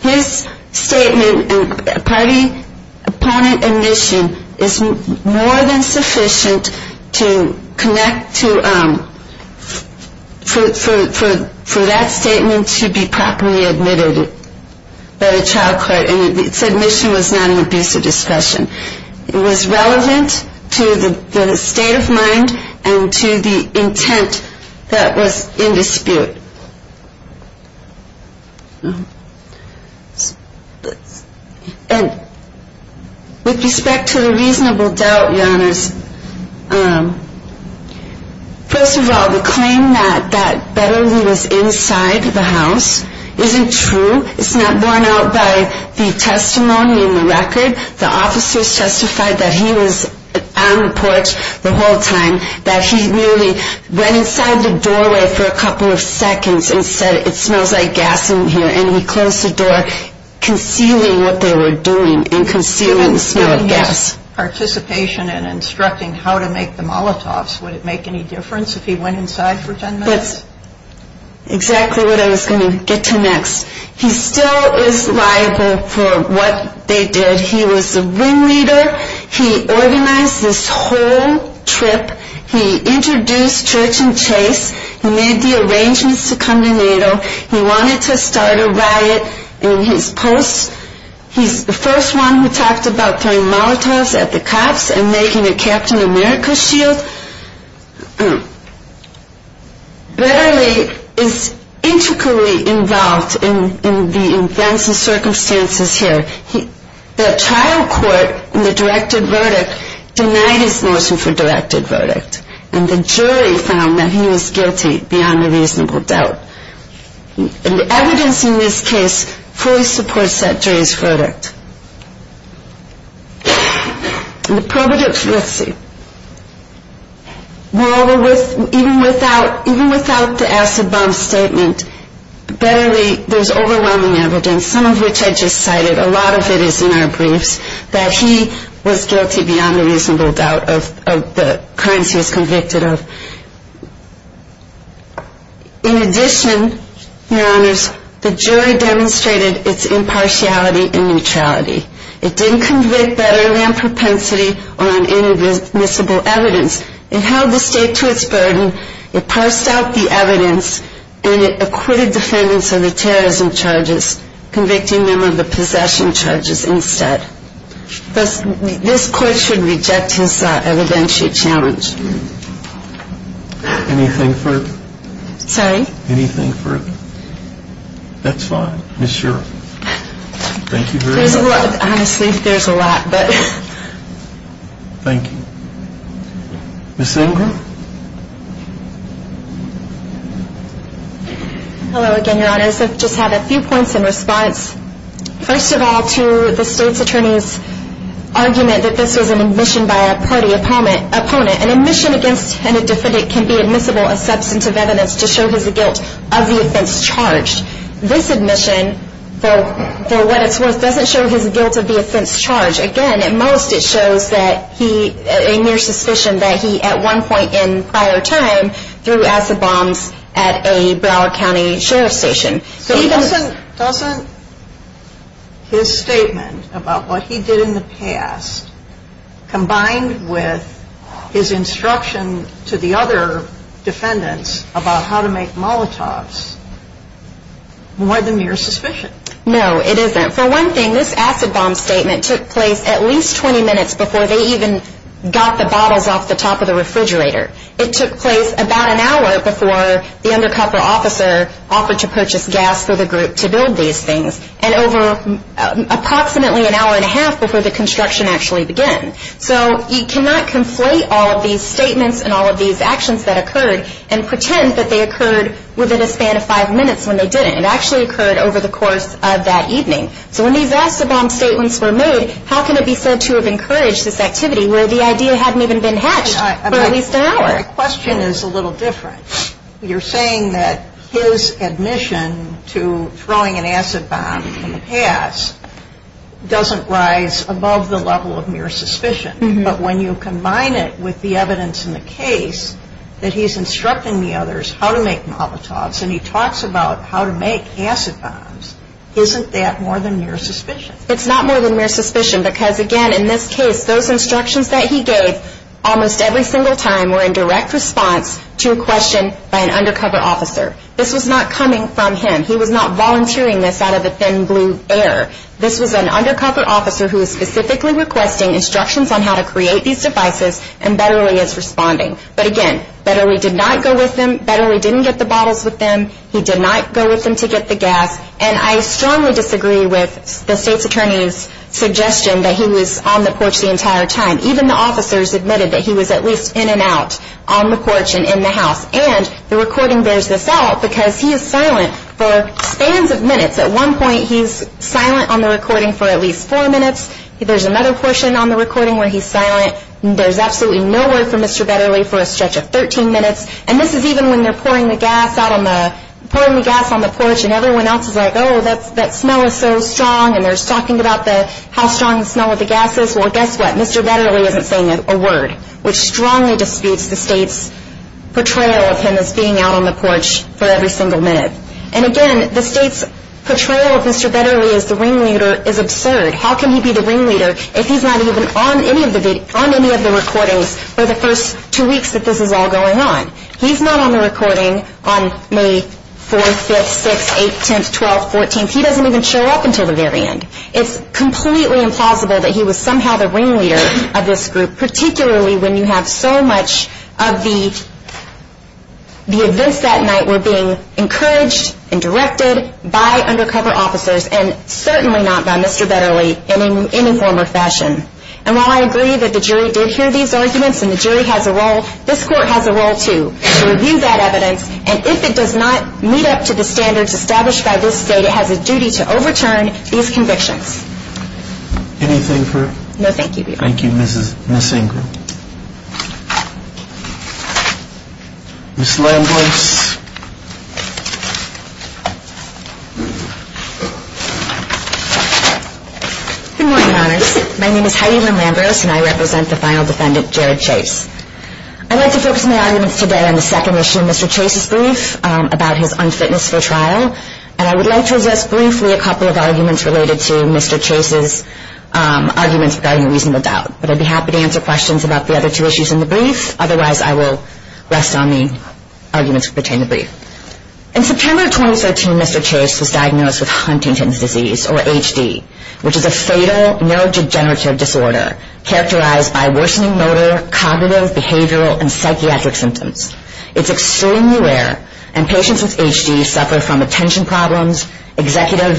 His statement and party opponent admission is more than sufficient for that statement to be properly admitted by the child court, and its admission was not an abuse of discretion. It was relevant to the state of mind and to the intent that was in dispute. And with respect to the reasonable doubt, Your Honors, first of all, the claim that that battery was inside the house isn't true. It's not borne out by the testimony in the record. The officers testified that he was on the porch the whole time, that he really went inside the doorway for a couple of seconds and said, it smells like gas in here. And he closed the door, concealing what they were doing and concealing the smell of gas. So if he was participating in instructing how to make the Molotovs, would it make any difference if he went inside for 10 minutes? That's exactly what I was going to get to next. He still is liable for what they did. He was the wing leader. He organized this whole trip. He introduced Church and Chase. He made the arrangements to come to NATO. He wanted to start a riot. And he's the first one who talked about throwing Molotovs at the cops and making a Captain America shield. Betterly is intricately involved in the events and circumstances here. The trial court in the directed verdict denied his notion for directed verdict. And the jury found that he was guilty beyond a reasonable doubt. And the evidence in this case fully supports that jury's verdict. And the pro-verdict, let's see. Even without the acid bomb statement, there's overwhelming evidence, some of which I just cited. A lot of it is in our briefs that he was guilty beyond a reasonable doubt of the crimes he was convicted of. In addition, your honors, the jury demonstrated its impartiality and neutrality. It didn't convict Betterland Propensity on inadmissible evidence. It held the state to its burden. It parsed out the evidence and it acquitted defendants of the terrorism charges, convicting them of the possession charges instead. This court should reject his evidentiary challenge. Anything further? That's fine. Honestly, there's a lot. Thank you. Ms. Ingram? Hello again, your honors. I just have a few points in response. First of all, to the state's attorney's argument that this was an admission by a party opponent. An admission against any defendant can be admissible as substantive evidence to show his guilt of the offense charged. This admission, for what it's worth, doesn't show his guilt of the offense charged. Again, at most it shows a mere suspicion that he, at one point in prior time, threw acid bombs at a Broward County Sheriff's Station. Doesn't his statement about what he did in the past, combined with his instruction to the other defendants about how to make Molotovs, more than mere suspicion? No, it isn't. For one thing, this acid bomb statement took place at least 20 minutes before they even got the bottles off the top of the refrigerator. It took place about an hour before the undercover officer offered to purchase gas for the group to build these things. And over approximately an hour and a half before the construction actually began. So you cannot conflate all of these statements and all of these actions that occurred and pretend that they occurred within a span of five minutes when they didn't. It actually occurred over the course of that evening. So when these acid bomb statements were made, how can it be said to have encouraged this activity where the idea hadn't even been hatched for at least an hour? My question is a little different. You're saying that his admission to throwing an acid bomb in the past doesn't rise above the level of mere suspicion. But when you combine it with the evidence in the case that he's instructing the others how to make Molotovs, and he talks about how to make acid bombs, isn't that more than mere suspicion? It's not more than mere suspicion. Because again, in this case, those instructions that he gave almost every single time were in direct response to a question by an undercover officer. This was not coming from him. He was not volunteering this out of the thin blue air. This was an undercover officer who was specifically requesting instructions on how to create these devices, and Betterly is responding. But again, Betterly did not go with them. Betterly didn't get the bottles with them. He did not go with them to get the gas. And I strongly disagree with the State's Attorney's suggestion that he was on the porch the entire time. Even the officers admitted that he was at least in and out on the porch and in the house. And the recording bears this out, because he is silent for spans of minutes. At one point, he's silent on the recording for at least four minutes. There's another portion on the recording where he's silent. There's absolutely no word from Mr. Betterly for a stretch of 13 minutes. And this is even when they're pouring the gas on the porch, and everyone else is like, oh, that smell is so strong, and they're talking about how strong the smell of the gas is. Well, guess what? Mr. Betterly isn't saying a word, which strongly disputes the State's portrayal of him as being out on the porch for every single minute. And again, the State's portrayal of Mr. Betterly as the ringleader is absurd. How can he be the ringleader if he's not even on any of the recordings for the first two weeks that this is all going on? He's not on the recording on May 4th, 5th, 6th, 8th, 10th, 12th, 14th. He doesn't even show up until the very end. It's completely implausible that he was somehow the ringleader of this group, particularly when you have so much of the events that night were being encouraged and directed by undercover officers, and certainly not by Mr. Betterly in any form or fashion. And while I agree that the jury did hear these arguments, and the jury has a role, this Court has a role, too, to review that evidence, and if it does not meet up to the standards established by this State, it has a duty to overturn these convictions. Anything further? No, thank you, Your Honor. Thank you, Ms. Ingram. Ms. Lambros. Good morning, Your Honors. My name is Heidi Lynn Lambros, and I represent the final defendant, Jared Chase. I'd like to focus my arguments today on the second issue of Mr. Chase's brief about his unfitness for trial, and I would like to address briefly a couple of arguments related to Mr. Chase's arguments regarding reasonable doubt. But I'd be happy to answer questions about the other two issues in the brief. Otherwise, I will rest on the arguments pertaining to the brief. In September 2013, Mr. Chase was diagnosed with Huntington's disease, or HD, which is a fatal neurodegenerative disorder characterized by worsening motor, cognitive, behavioral, and psychiatric symptoms. It's extremely rare, and patients with HD suffer from attention problems, executive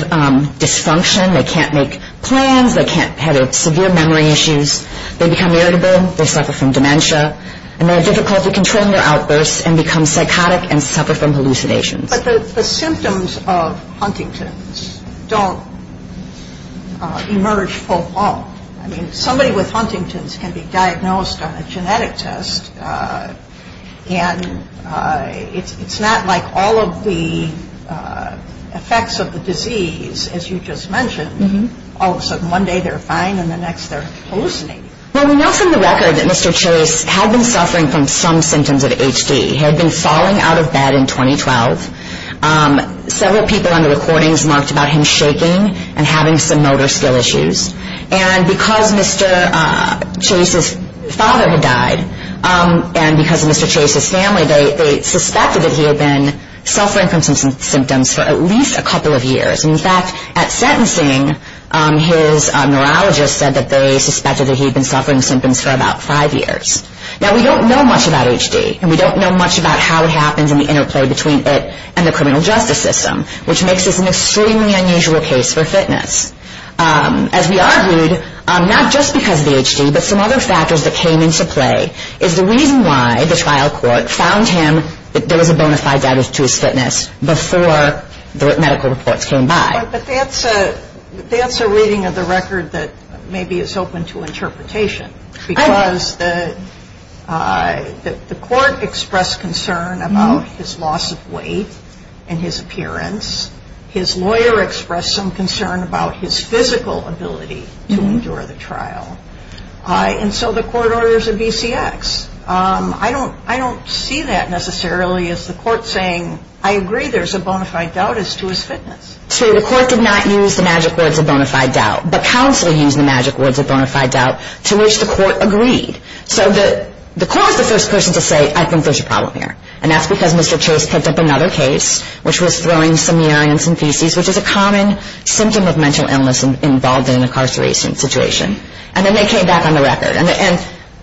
dysfunction. They can't make plans. They can't have severe memory issues. They become irritable. They suffer from dementia, and they have difficulty controlling their outbursts and become psychotic and suffer from hallucinations. But the symptoms of Huntington's don't emerge full-blown. I mean, somebody with Huntington's can be diagnosed on a genetic test, and it's not like all of the effects of the disease, as you just mentioned. All of a sudden, one day they're fine, and the next they're hallucinating. Well, we know from the record that Mr. Chase had been suffering from some symptoms of HD. He had been falling out of bed in 2012. Several people on the recordings marked about him shaking and having some motor skill issues. And because Mr. Chase's father had died, and because of Mr. Chase's family, they suspected that he had been suffering from some symptoms for at least a couple of years. In fact, at sentencing, his neurologist said that they suspected that he had been suffering symptoms for about five years. Now, we don't know much about HD, and we don't know much about how it happens and the interplay between it and the criminal justice system, which makes this an extremely unusual case for fitness. As we argued, not just because of the HD, but some other factors that came into play, is the reason why the trial court found him that there was a bona fide data to his fitness before the medical reports came by. But that's a reading of the record that maybe is open to interpretation, because the court expressed concern about his loss of weight and his appearance. His lawyer expressed some concern about his physical ability to endure the trial. And so the court orders a BCX. I don't see that necessarily as the court saying, I agree there's a bona fide doubt as to his fitness. So the court did not use the magic words of bona fide doubt, but counsel used the magic words of bona fide doubt to which the court agreed. So the court was the first person to say, I think there's a problem here. And that's because Mr. Chase picked up another case, which was throwing some urine and some feces, which is a common symptom of mental illness involved in an incarceration situation. And then they came back on the record. And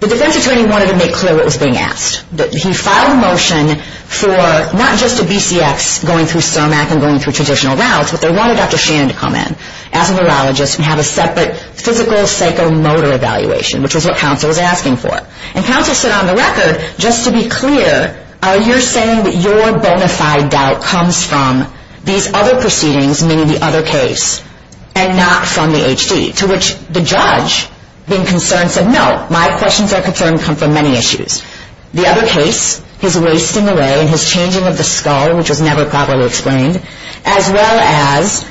the defense attorney wanted to make clear what was being asked. He filed a motion for not just a BCX going through SOMAC and going through traditional routes, but they wanted Dr. Shannon to come in as a neurologist and have a separate physical psychomotor evaluation, which is what counsel was asking for. And counsel said on the record, just to be clear, are you saying that your bona fide doubt comes from these other proceedings, meaning the other case, and not from the HD? To which the judge, being concerned, said, no, my questions are concerned come from many issues. The other case, his wasting away and his changing of the skull, which was never properly explained, as well as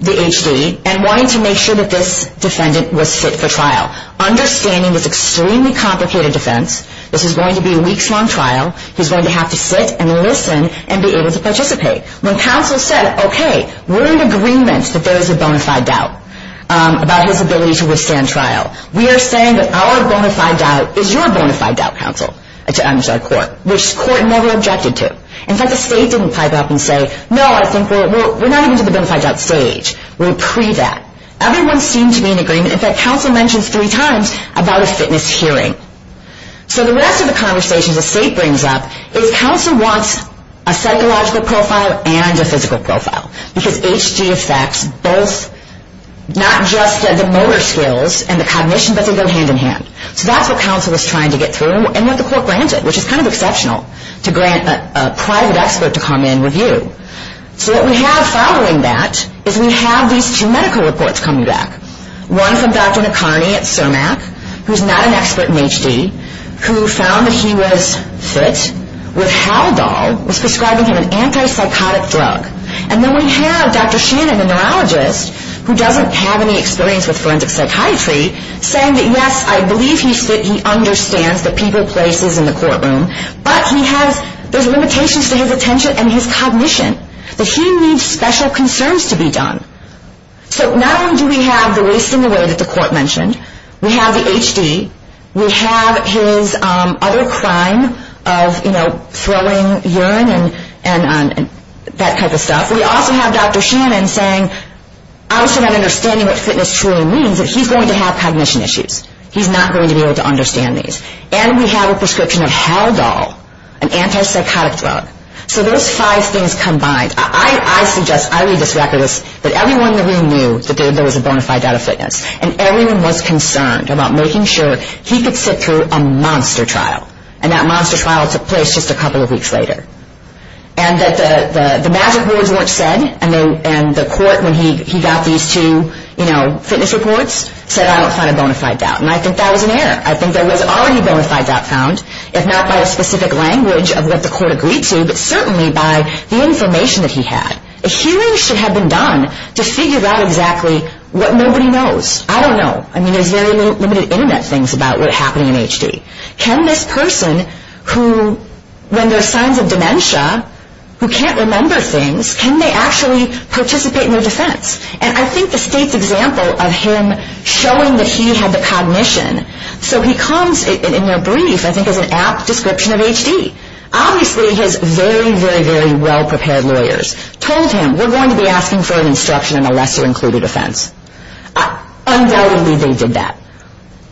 the HD, and wanting to make sure that this defendant was fit for trial. Understanding this extremely complicated defense, this is going to be a weeks-long trial. He's going to have to sit and listen and be able to participate. When counsel said, okay, we're in agreement that there is a bona fide doubt about his ability to withstand trial. We are saying that our bona fide doubt is your bona fide doubt, counsel, to our court, which court never objected to. In fact, the state didn't pipe up and say, no, I think we're not even to the bona fide doubt stage. We're pre-that. Everyone seemed to be in agreement. In fact, counsel mentions three times about a fitness hearing. So the rest of the conversations the state brings up is counsel wants a psychological profile and a physical profile. Because HD affects both, not just the motor skills and the cognition, but they go hand in hand. So that's what counsel was trying to get through and what the court granted, which is kind of exceptional to grant a private expert to come in and review. So what we have following that is we have these two medical reports coming back. One from Dr. McCarney at CIRMAC, who's not an expert in HD, who found that he was fit with Haldol, was prescribing him an antipsychotic drug. And then we have Dr. Shannon, a neurologist who doesn't have any experience with forensic psychiatry, saying that, yes, I believe he's fit, he understands the people, places in the courtroom, but he has those limitations to his attention and his cognition, that he needs special concerns to be done. So not only do we have the waste in the way that the court mentioned, we have the HD, we have his other crime of, you know, throwing urine and that type of stuff. We also have Dr. Shannon saying, obviously not understanding what fitness truly means, that he's going to have cognition issues. He's not going to be able to understand these. And we have a prescription of Haldol, an antipsychotic drug. So those five things combined. I suggest I read this record as that everyone in the room knew that there was a bona fide doubt of fitness. And everyone was concerned about making sure he could sit through a monster trial. And that monster trial took place just a couple of weeks later. And that the magic words weren't said, and the court, when he got these two, you know, fitness reports, said, I don't find a bona fide doubt. And I think that was an error. I think there was already a bona fide doubt found, if not by a specific language of what the court agreed to, but certainly by the information that he had. A hearing should have been done to figure out exactly what nobody knows. I don't know. I mean, there's very limited internet things about what happened in HD. Can this person who, when there's signs of dementia, who can't remember things, can they actually participate in their defense? And I think the state's example of him showing that he had the cognition. So he comes in their brief, I think, as an apt description of HD. Obviously, his very, very, very well-prepared lawyers told him, we're going to be asking for an instruction in a lesser-included offense. Undoubtedly, they did that.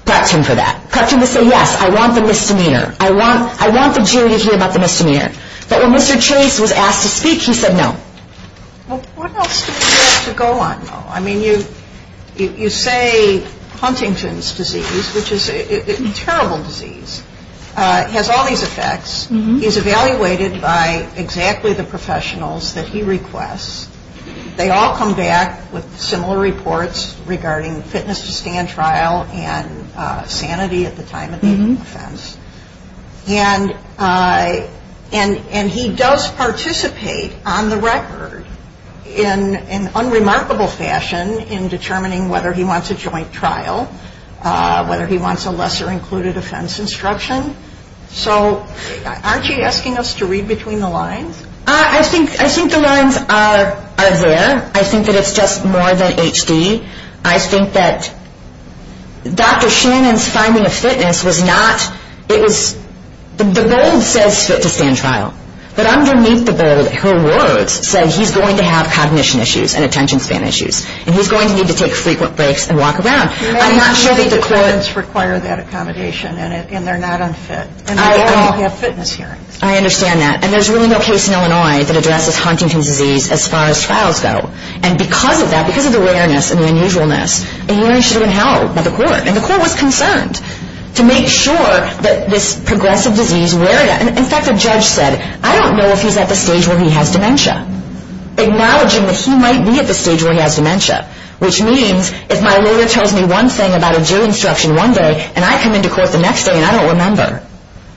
Prepped him for that. Prepped him to say, yes, I want the misdemeanor. I want the jury to hear about the misdemeanor. But when Mr. Chase was asked to speak, he said no. Well, what else do you have to go on, though? I mean, you say Huntington's disease, which is a terrible disease. It has all these effects. He's evaluated by exactly the professionals that he requests. They all come back with similar reports regarding fitness-to-stand trial and sanity at the time of the offense. And he does participate on the record in an unremarkable fashion in determining whether he wants a joint trial, whether he wants a lesser-included offense instruction. So aren't you asking us to read between the lines? I think the lines are there. I think that it's just more than HD. I think that Dr. Shannon's finding of fitness was not, it was, the bold says fit-to-stand trial. But underneath the bold, her words said, he's going to have cognition issues and attention span issues. And he's going to need to take frequent breaks and walk around. I'm not sure that the court. Many of the defendants require that accommodation, and they're not unfit. And they all have fitness hearings. I understand that. And there's really no case in Illinois that addresses Huntington's disease as far as trials go. And because of that, because of the rareness and the unusualness, a hearing should have been held by the court. And the court was concerned to make sure that this progressive disease, in fact, the judge said, I don't know if he's at the stage where he has dementia, acknowledging that he might be at the stage where he has dementia, which means if my lawyer tells me one thing about a Jew instruction one day and I come into court the next day and I don't remember,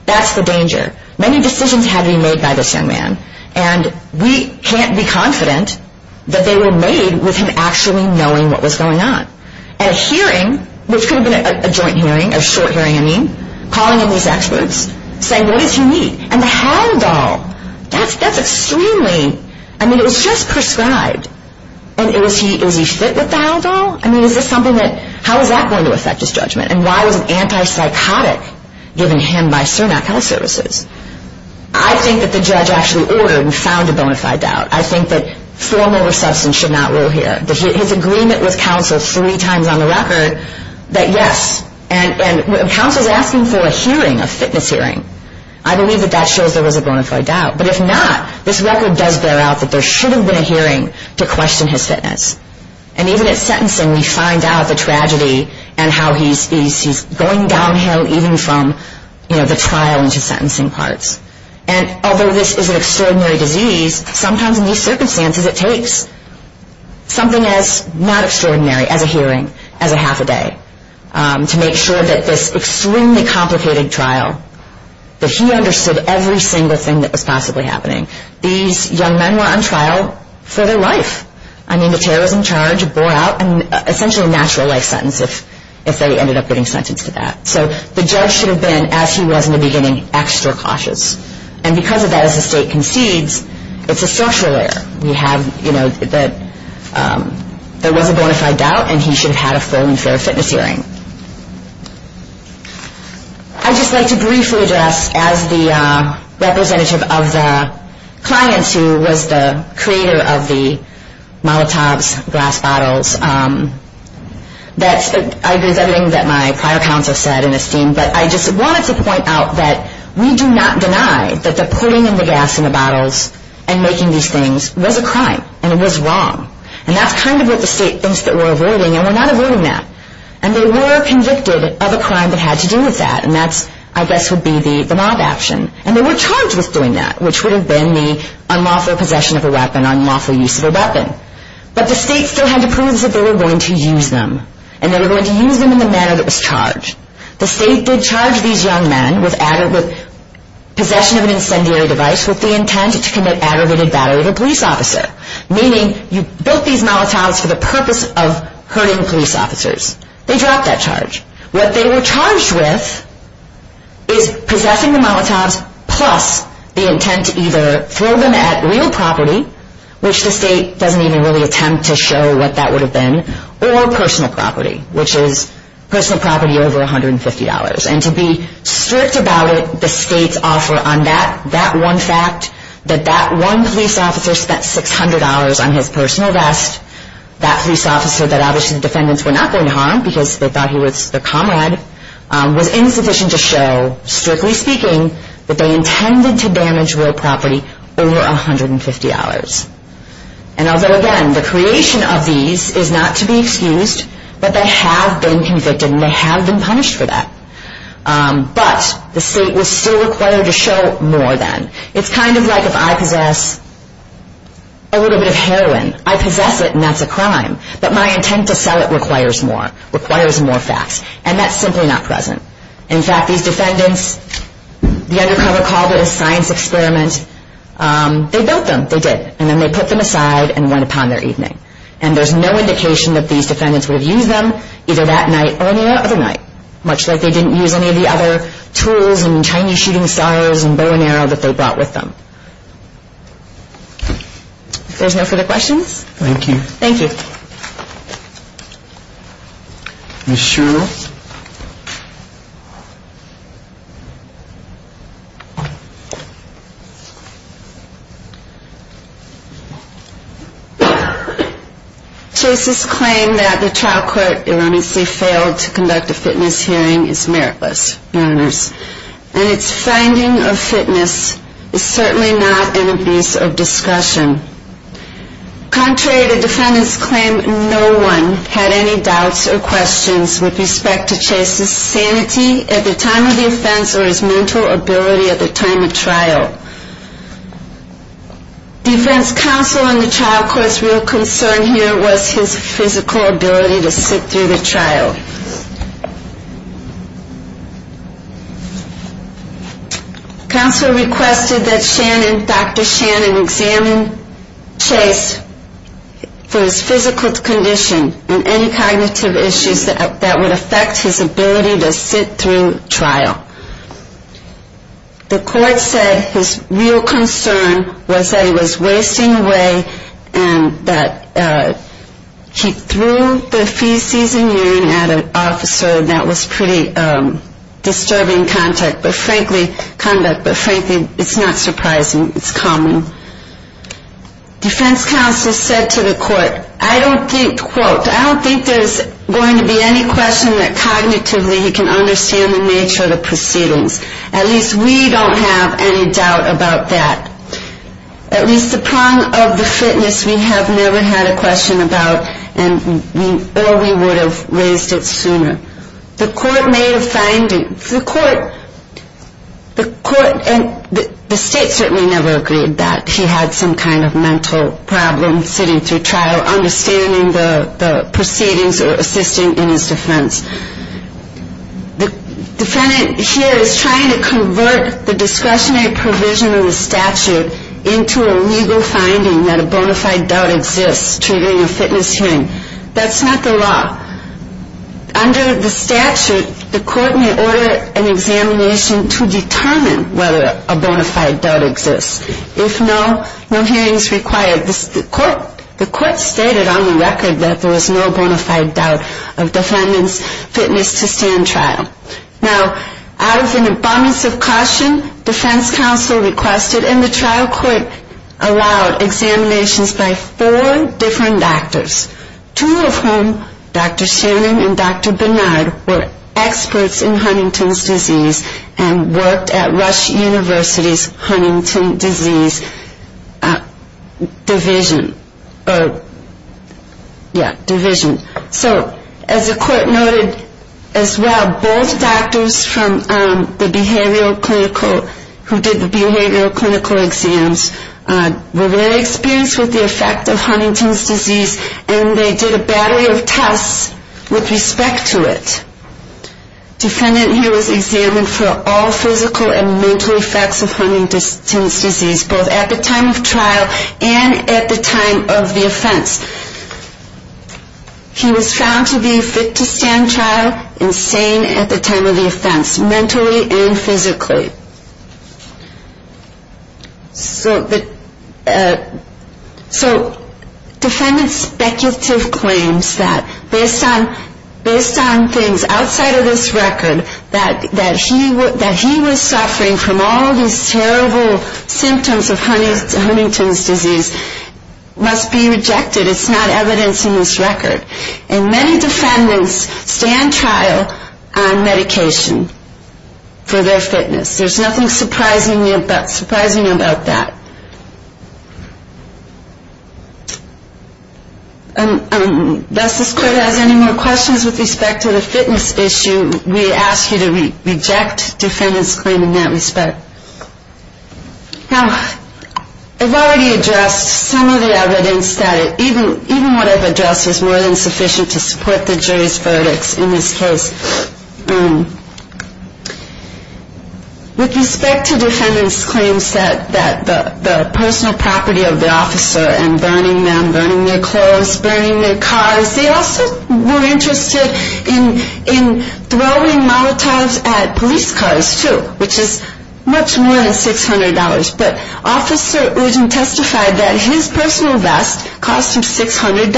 that's the danger. Many decisions had to be made by this young man. And we can't be confident that they were made with him actually knowing what was going on. And a hearing, which could have been a joint hearing, a short hearing, I mean, calling in these experts, saying, what does he need? And the handle, that's extremely, I mean, it was just prescribed. And is he fit with that at all? I mean, is this something that, how is that going to affect his judgment? And why was an antipsychotic given him by CERNAC Health Services? I think that the judge actually ordered and found a bona fide doubt. I think that form over substance should not rule here. His agreement with counsel three times on the record that yes, and when counsel is asking for a hearing, a fitness hearing, I believe that that shows there was a bona fide doubt. But if not, this record does bear out that there should have been a hearing to question his fitness. And even at sentencing, we find out the tragedy and how he's going downhill, even from the trial into sentencing parts. And although this is an extraordinary disease, sometimes in these circumstances it takes something as not extraordinary as a hearing, as a half a day, to make sure that this extremely complicated trial, that he understood every single thing that was possibly happening. These young men were on trial for their life. I mean, the terror was in charge, bore out, and essentially a natural life sentence if they ended up getting sentenced to that. So the judge should have been, as he was in the beginning, extra cautious. And because of that, as the state concedes, it's a social error. We have, you know, that there was a bona fide doubt, and he should have had a full and fair fitness hearing. I'd just like to briefly address, as the representative of the clients who was the creator of the Molotov's glass bottles, that's everything that my prior counsel said in esteem. But I just wanted to point out that we do not deny that the putting in the gas in the bottles and making these things was a crime, and it was wrong. And that's kind of what the state thinks that we're avoiding, and we're not avoiding that. And they were convicted of a crime that had to do with that, and that, I guess, would be the mob action. And they were charged with doing that, which would have been the unlawful possession of a weapon, unlawful use of a weapon. But the state still had to prove that they were going to use them, and they were going to use them in the manner that was charged. The state did charge these young men with possession of an incendiary device with the intent to commit aggravated battery of a police officer, meaning you built these Molotov's for the purpose of hurting police officers. They dropped that charge. What they were charged with is possessing the Molotov's, plus the intent to either throw them at real property, which the state doesn't even really attempt to show what that would have been, or personal property, which is personal property over $150. And to be strict about it, the state's offer on that, that one fact, that that one police officer spent $600 on his personal vest, that police officer that obviously the defendants were not going to harm because they thought he was their comrade, was insufficient to show, strictly speaking, that they intended to damage real property over $150. And although, again, the creation of these is not to be excused, but they have been convicted, and they have been punished for that. But the state was still required to show more than. It's kind of like if I possess a little bit of heroin, I possess it and that's a crime, but my intent to sell it requires more, requires more facts. And that's simply not present. In fact, these defendants, the undercover called it a science experiment. They built them, they did. And then they put them aside and went upon their evening. And there's no indication that these defendants would have used them either that night or any other night, much like they didn't use any of the other tools and Chinese shooting stars and bow and arrow that they brought with them. If there's no further questions. Thank you. Thank you. Ms. Sherrill. Chase's claim that the trial court erroneously failed to conduct a fitness hearing is meritless, Your Honors. And its finding of fitness is certainly not an abuse of discretion. Contrary to defendants' claim, no one had any doubts or questions with respect to Chase's sanity at the time of the offense or his mental ability at the time of trial. Defense counsel in the trial court's real concern here was his physical ability to sit through the trial. Counsel requested that Shannon, Dr. Shannon, examine Chase for his physical condition and any cognitive issues that would affect his ability to sit through trial. The court said his real concern was that he was wasting away and that he threw the feces and urine at an officer and that was pretty disturbing conduct. But frankly, it's not surprising. It's common. Defense counsel said to the court, I don't think, quote, I don't think there's going to be any question that cognitively he can understand the nature of the proceedings. At least we don't have any doubt about that. At least the prong of the fitness we have never had a question about or we would have raised it sooner. The state certainly never agreed that he had some kind of mental problem sitting through trial, understanding the proceedings or assisting in his defense. The defendant here is trying to convert the discretionary provision of the statute into a legal finding that a bona fide doubt exists triggering a fitness hearing. That's not the law. Under the statute, the court may order an examination to determine whether a bona fide doubt exists. If no, no hearing is required. The court stated on the record that there was no bona fide doubt of defendant's fitness to stand trial. Now, out of an abundance of caution, defense counsel requested and the trial court allowed examinations by four different doctors, two of whom, Dr. Shannon and Dr. Bernard, were experts in Huntington's disease and worked at Rush University's Huntington's disease division. So as the court noted as well, both doctors who did the behavioral clinical exams were very experienced with the effect of Huntington's disease and they did a battery of tests with respect to it. Defendant here was examined for all physical and mental effects of Huntington's disease, both at the time of trial and at the time of the offense. He was found to be fit to stand trial and sane at the time of the offense, mentally and physically. So defendant's speculative claims that based on things outside of this record, that he was suffering from all these terrible symptoms of Huntington's disease must be rejected. It's not evidence in this record. And many defendants stand trial on medication for their fitness. There's nothing surprising about that. Unless this court has any more questions with respect to the fitness issue, we ask you to reject defendant's claim in that respect. Now, I've already addressed some of the evidence. Even what I've addressed is more than sufficient to support the jury's verdicts in this case. With respect to defendant's claims that the personal property of the officer and burning them, burning their clothes, burning their cars, they also were interested in throwing molotovs at police cars too, which is much more than $600. But officer Ugin testified that his personal vest cost him $600.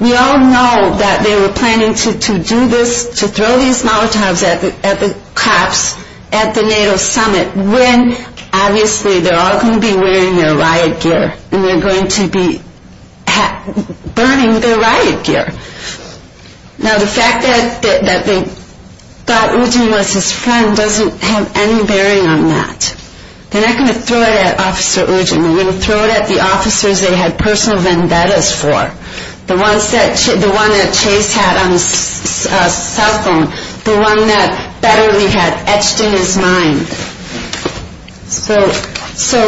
We all know that they were planning to do this, to throw these molotovs at the cops at the NATO summit when obviously they're all going to be wearing their riot gear and they're going to be burning their riot gear. Now, the fact that they thought Ugin was his friend doesn't have any bearing on that. They're not going to throw it at officer Ugin. They're going to throw it at the officers they had personal vendettas for, the ones that Chase had on his cell phone, the one that Betterly had etched in his mind. So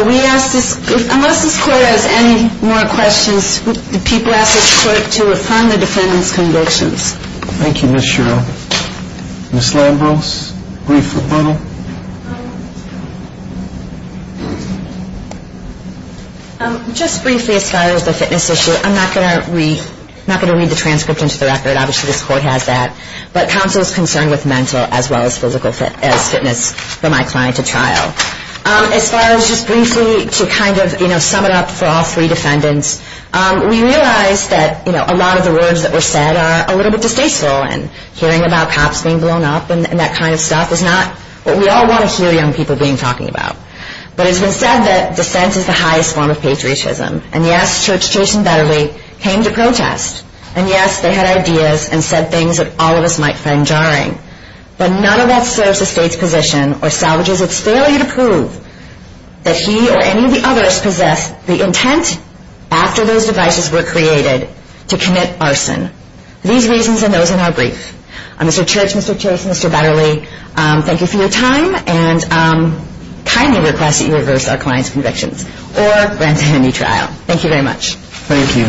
unless this court has any more questions, people ask this court to affirm the defendant's convictions. Thank you, Ms. Sherrill. Ms. Lambros, brief rebuttal. Just briefly as far as the fitness issue, I'm not going to read the transcript into the record. Obviously, this court has that. But counsel is concerned with mental as well as physical fitness for my client at trial. As far as just briefly to kind of sum it up for all three defendants, we realize that a lot of the words that were said are a little bit distasteful and hearing about cops being blown up and that kind of stuff is not what we all want to hear young people being talking about. But it's been said that dissent is the highest form of patriotism. And yes, Church, Chase and Betterly came to protest. And yes, they had ideas and said things that all of us might find jarring. But none of that serves the state's position or salvages its failure to prove that he or any of the others possessed the intent after those devices were created to commit arson. These reasons and those in our brief. Mr. Church, Mr. Chase, Mr. Betterly, thank you for your time and I kindly request that you reverse our client's convictions or grant him a new trial. Thank you very much. Thank you.